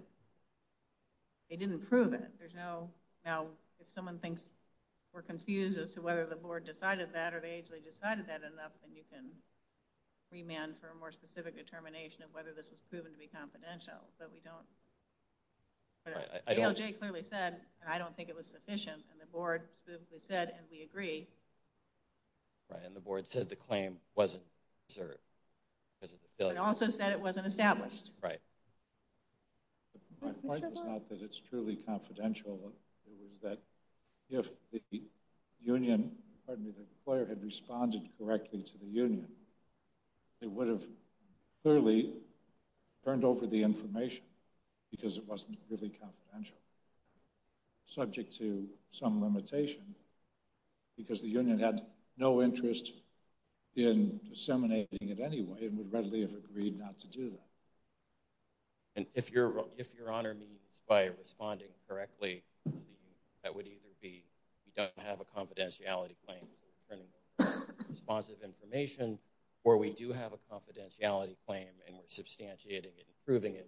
They didn't prove it. There's no. Now, if someone thinks we're confused as to whether the board decided that or they actually decided that enough, then you can remand for a more specific determination of whether this was proven to be confidential. So we don't. But I don't think it was sufficient and the board said, and we agree. Right, and the board said the claim wasn't served. It also said it wasn't established, right? My point is not that It was that if the union. Pardon me, the player had responded correctly to the union. It would have clearly turned over the information because it wasn't really confidential. Subject to some limitation because the union had no interest in disseminating it anyway and would readily have agreed not to do that. And if you're if you're on our knees by responding correctly, that would either be you don't have a confidentiality claim. Responsive information or we do have a confidentiality claim and we're substantiating it, improving it.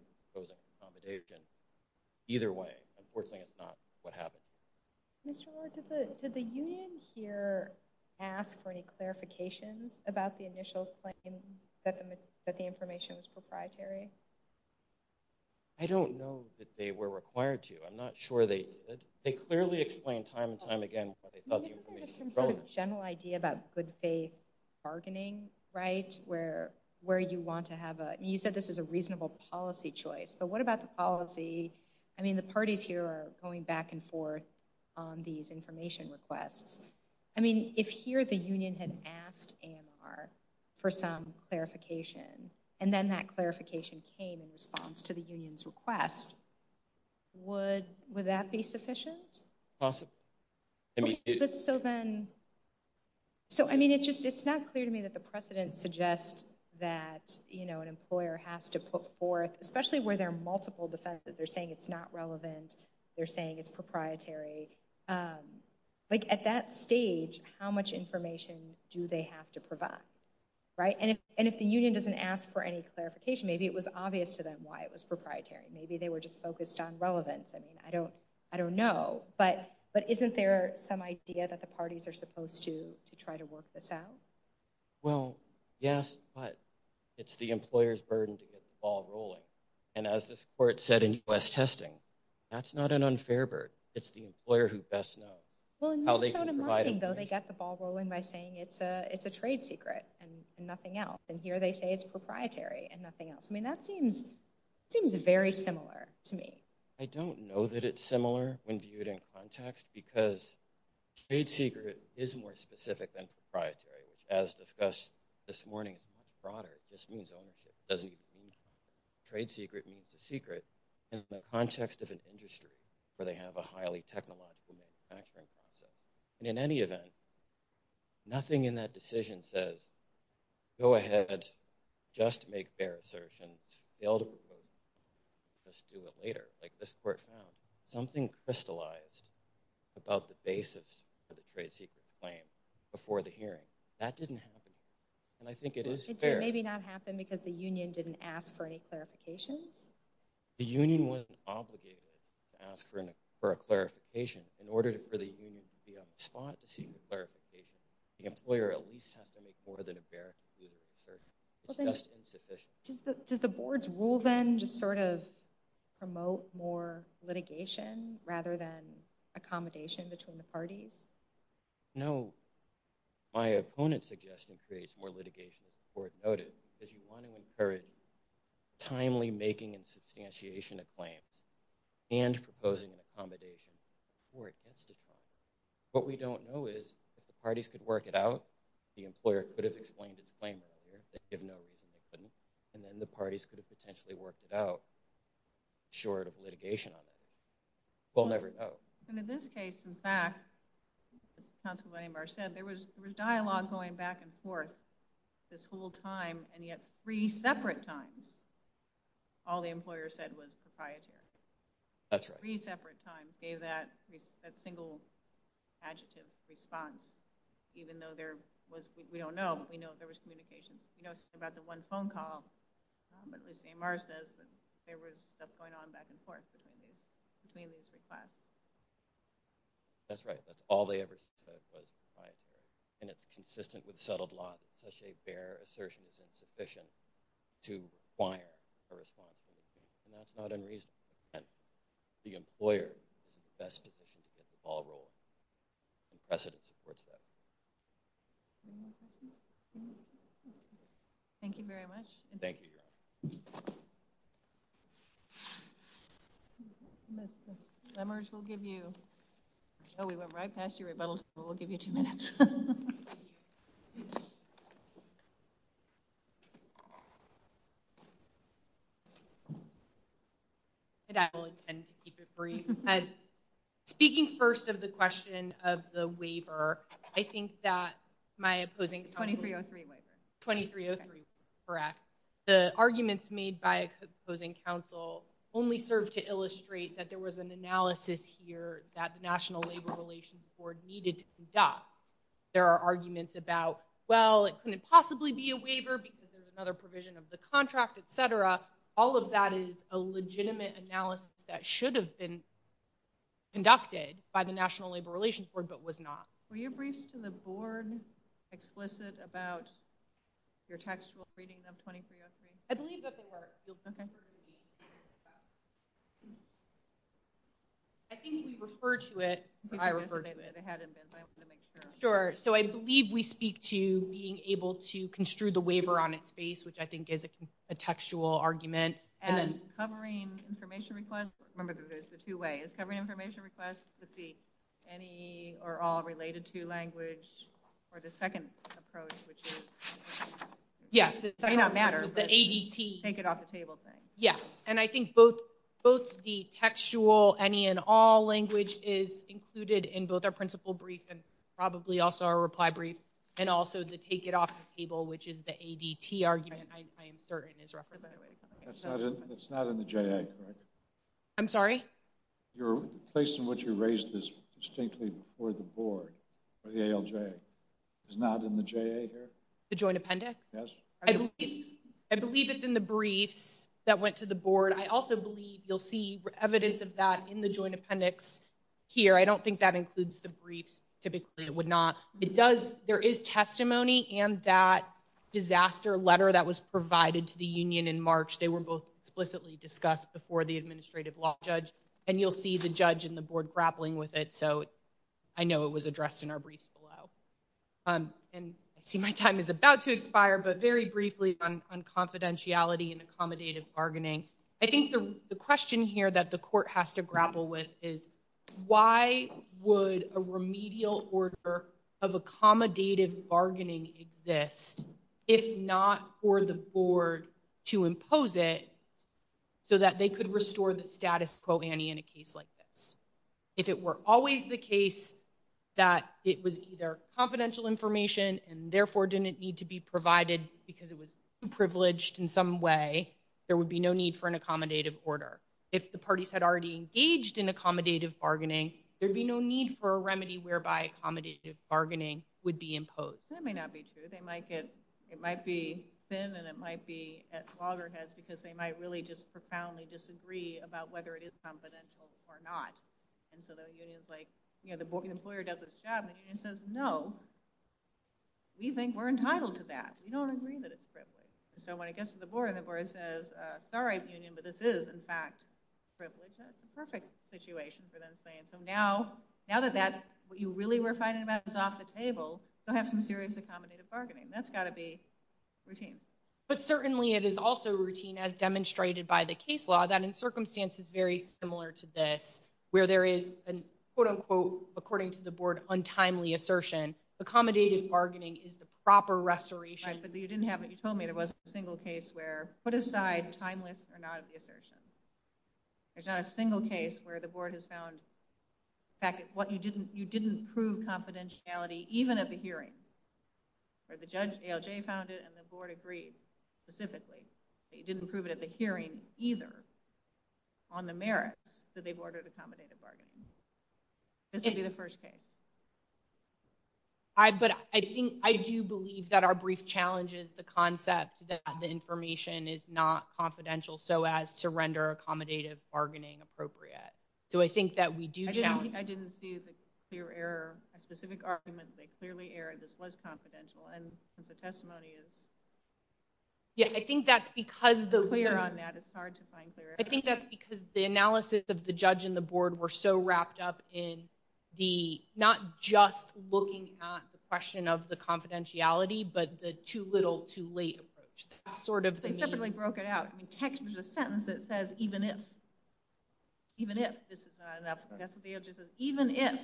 Either way, unfortunately, it's not what happened. Mr. Ward, did the union here ask for any clarifications about the initial claim that the information was proprietary? I don't know that they were required to. I'm not sure they did. They clearly explained time and time again. Some sort of general idea about good, safe bargaining, right where where you want to have a. You said this is a reasonable policy choice, but what about the policy? I mean, the parties here are going back and forth on these information requests. I mean, if here the union had asked AMR for some clarification and then that clarification came in response to the union's request. Would would that be sufficient? Possible. So then. So I mean, it's just it's not clear to me that the precedent suggests that you know an employer has to put forth, especially where there are multiple defenses. They're saying it's not relevant. They're saying it's proprietary. Like at that stage, how much information do they have to provide? Right, and if the union doesn't ask for any clarification, maybe it was obvious to them why it was proprietary. Maybe they were just focused on relevance. I mean, I don't I don't know. But but isn't there some idea that the parties are supposed to to try to work this out? Well, yes, but it's the employer's burden to get the ball rolling. And as this court said in US testing, that's not an unfair burden. It's the employer who best knows. Well, they get the ball rolling by saying it's a it's a trade secret and nothing else. And here they say it's proprietary and nothing else. I mean, that seems seems very similar to me. I don't know that it's similar when viewed in context because trade secret is more specific than proprietary, which as discussed this morning, it's much broader. It just means ownership. It doesn't mean trade secret means the secret in the context of an industry where they have a highly technological manufacturing process. And in any event, nothing in that decision says, go ahead, just make fair assertion. The ultimate court says, let's do it later. Like this court found something crystallized about the basis for the trade secret claim before the hearing. That didn't happen. And I think it is fair. Maybe not happen because the union didn't ask for any clarification. The union was obligated to ask for a clarification in order for the union to be able to respond to the clarification. The employer at least has to make more than a fair assertion. Does the board's rule then just sort of promote more litigation rather than accommodation between the parties? No, my opponent's suggestion creates more litigation than the court noted because you want to encourage timely making and substantiation of claims and proposing an accommodation. What we don't know is if the parties could work it out, the employer could have explained his claim and then the parties could have potentially worked it out short of litigation. We'll never know. And in this case, in fact, Council Member Amar said there was dialogue going back and forth this whole time and yet three separate times all the employer said was proprietary. That's right. Three separate times gave that single adjective response even though there was, we don't know, but we know there was communication. We know about the one phone call but as Amar says, there was stuff going on back and forth between these three times. That's right. That's all they ever said was proprietary and it's consistent with settled law that such a bare assertion is insufficient to acquire a response. That's not unreasonable. The employer is the best position to get the ball rolling and precedent supports that. Thank you very much. Thank you. Summers, we'll give you, oh, we went right past you, but we'll give you two minutes. Speaking first of the question of the waiver, I think that my opposing... The 2303 waiver. 2303, correct. The arguments made by opposing counsel only serve to illustrate that there was an analysis here that the National Labor Relations Board needed to conduct. There are arguments about, well, it couldn't possibly be a waiver because there's another provision of the contract, et cetera. All of that is a legitimate analysis that should have been conducted by the National Labor Relations Board but was not. Were your briefs to the board explicit about your textual reading of 2303? I believe that they were. I think you referred to it. I referred to it. It hadn't been, but I wanted to make sure. Sure. So I believe we speak to being able to construe the waiver on its face, which I think is a textual argument. And then covering information requests, remember that there's the two ways, covering information requests to see any or all related to language or the second approach, which is... Yes, it may not matter. The ADT... Take it off the table thing. Yes. And I think both the textual any and all language is included in both our principal brief and probably also our reply brief and also the take it off the table, which is the ADT argument, I am certain is represented. It's not in the JA, correct? I'm sorry? Your, based on what you raised is distinctly for the board, for the ALJ. It's not in the JA here? The joint appendix? I believe it's in the brief that went to the board. I also believe you'll see evidence of that in the joint appendix here. I don't think that includes the brief. Typically it would not. It does. There is testimony and that disaster letter that was provided to the union in March. They were both explicitly discussed before the administrative law judge and you'll see the judge and the board grappling with it. So I know it was addressed in our brief below. And I see my time is about to expire, but very briefly on confidentiality and accommodative bargaining. I think the question here that the court has to grapple with is why would a remedial order of accommodative bargaining exist if not for the board to impose it so that they could restore the status quo any in a case like this? If it were always the case that it was either confidential information and therefore didn't need to be provided because it was privileged in some way, there would be no need for an accommodative order. If the parties had already engaged in accommodative bargaining, there'd be no need for a remedy whereby accommodative bargaining would be imposed. That may not be true. It might be thin and it might be at loggerheads because they might really just profoundly disagree about whether it is confidential or not. And so the union is like, you know, the employer does its job and the union says, no, we think we're entitled to that. We don't agree that it's privileged. And so when it gets to the board and the board says, sorry, union, but this is in fact privileged, that's a perfect situation for them saying, so now that that's what you really were fighting about is off the table, they'll have some serious accommodative bargaining. That's got to be routine. But certainly it is also routine as demonstrated by the case law that in circumstances very similar to this where there is an, quote unquote, according to the board, untimely assertion, accommodative bargaining is the proper restoration. I said that you didn't have it. You told me it wasn't a single case where put aside timeless or not assertion. There's not a single case where the board has found back at what you didn't, you didn't prove confidentiality, even at the hearing where the judge found it and the board agreed specifically. It didn't prove it at the hearing either on the merit that they've ordered accommodative bargaining. That's maybe the first case. But I think I do believe that our brief challenge is the concept that the information is not confidential so as to render accommodative bargaining appropriate. So I think that we do challenge. I didn't see the clear error. A specific argument they clearly erred this was confidential and the testimony is. Yeah, I think that's because the clear on that it's hard to find clear. I think that's because the analysis of the judge and the board were so wrapped up in the not just looking at the question of the confidentiality but the too little too late approach sort of thing. They definitely broke it out. I mean text was a sentence that says even if, even if this is not enough, that's the answer. Even if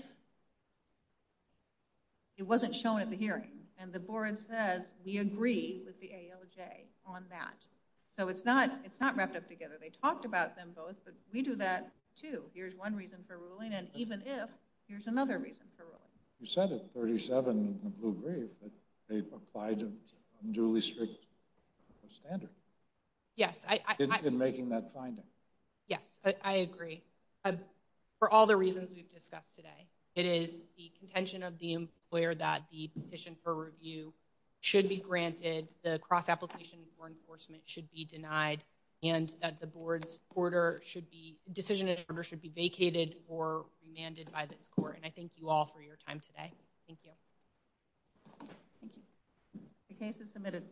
it wasn't shown at the hearing and the board says we agree with the AOJ on that. So it's not, it's not wrapped up together. They talked about them both we do that too. Here's one reason for ruling and even if here's another reason for ruling. You said it 37 who agrees that they've applied and unduly strict standard. Yes, I've been making that finding. Yes, I agree. For all the reasons we've discussed today it is the contention of the employer that the petition for review should be granted. The cross application for enforcement should be denied and that the board supporter should be decision that ever should be vacated or demanded by the court. And I thank you all for your time today. Thank you. The case is submitted.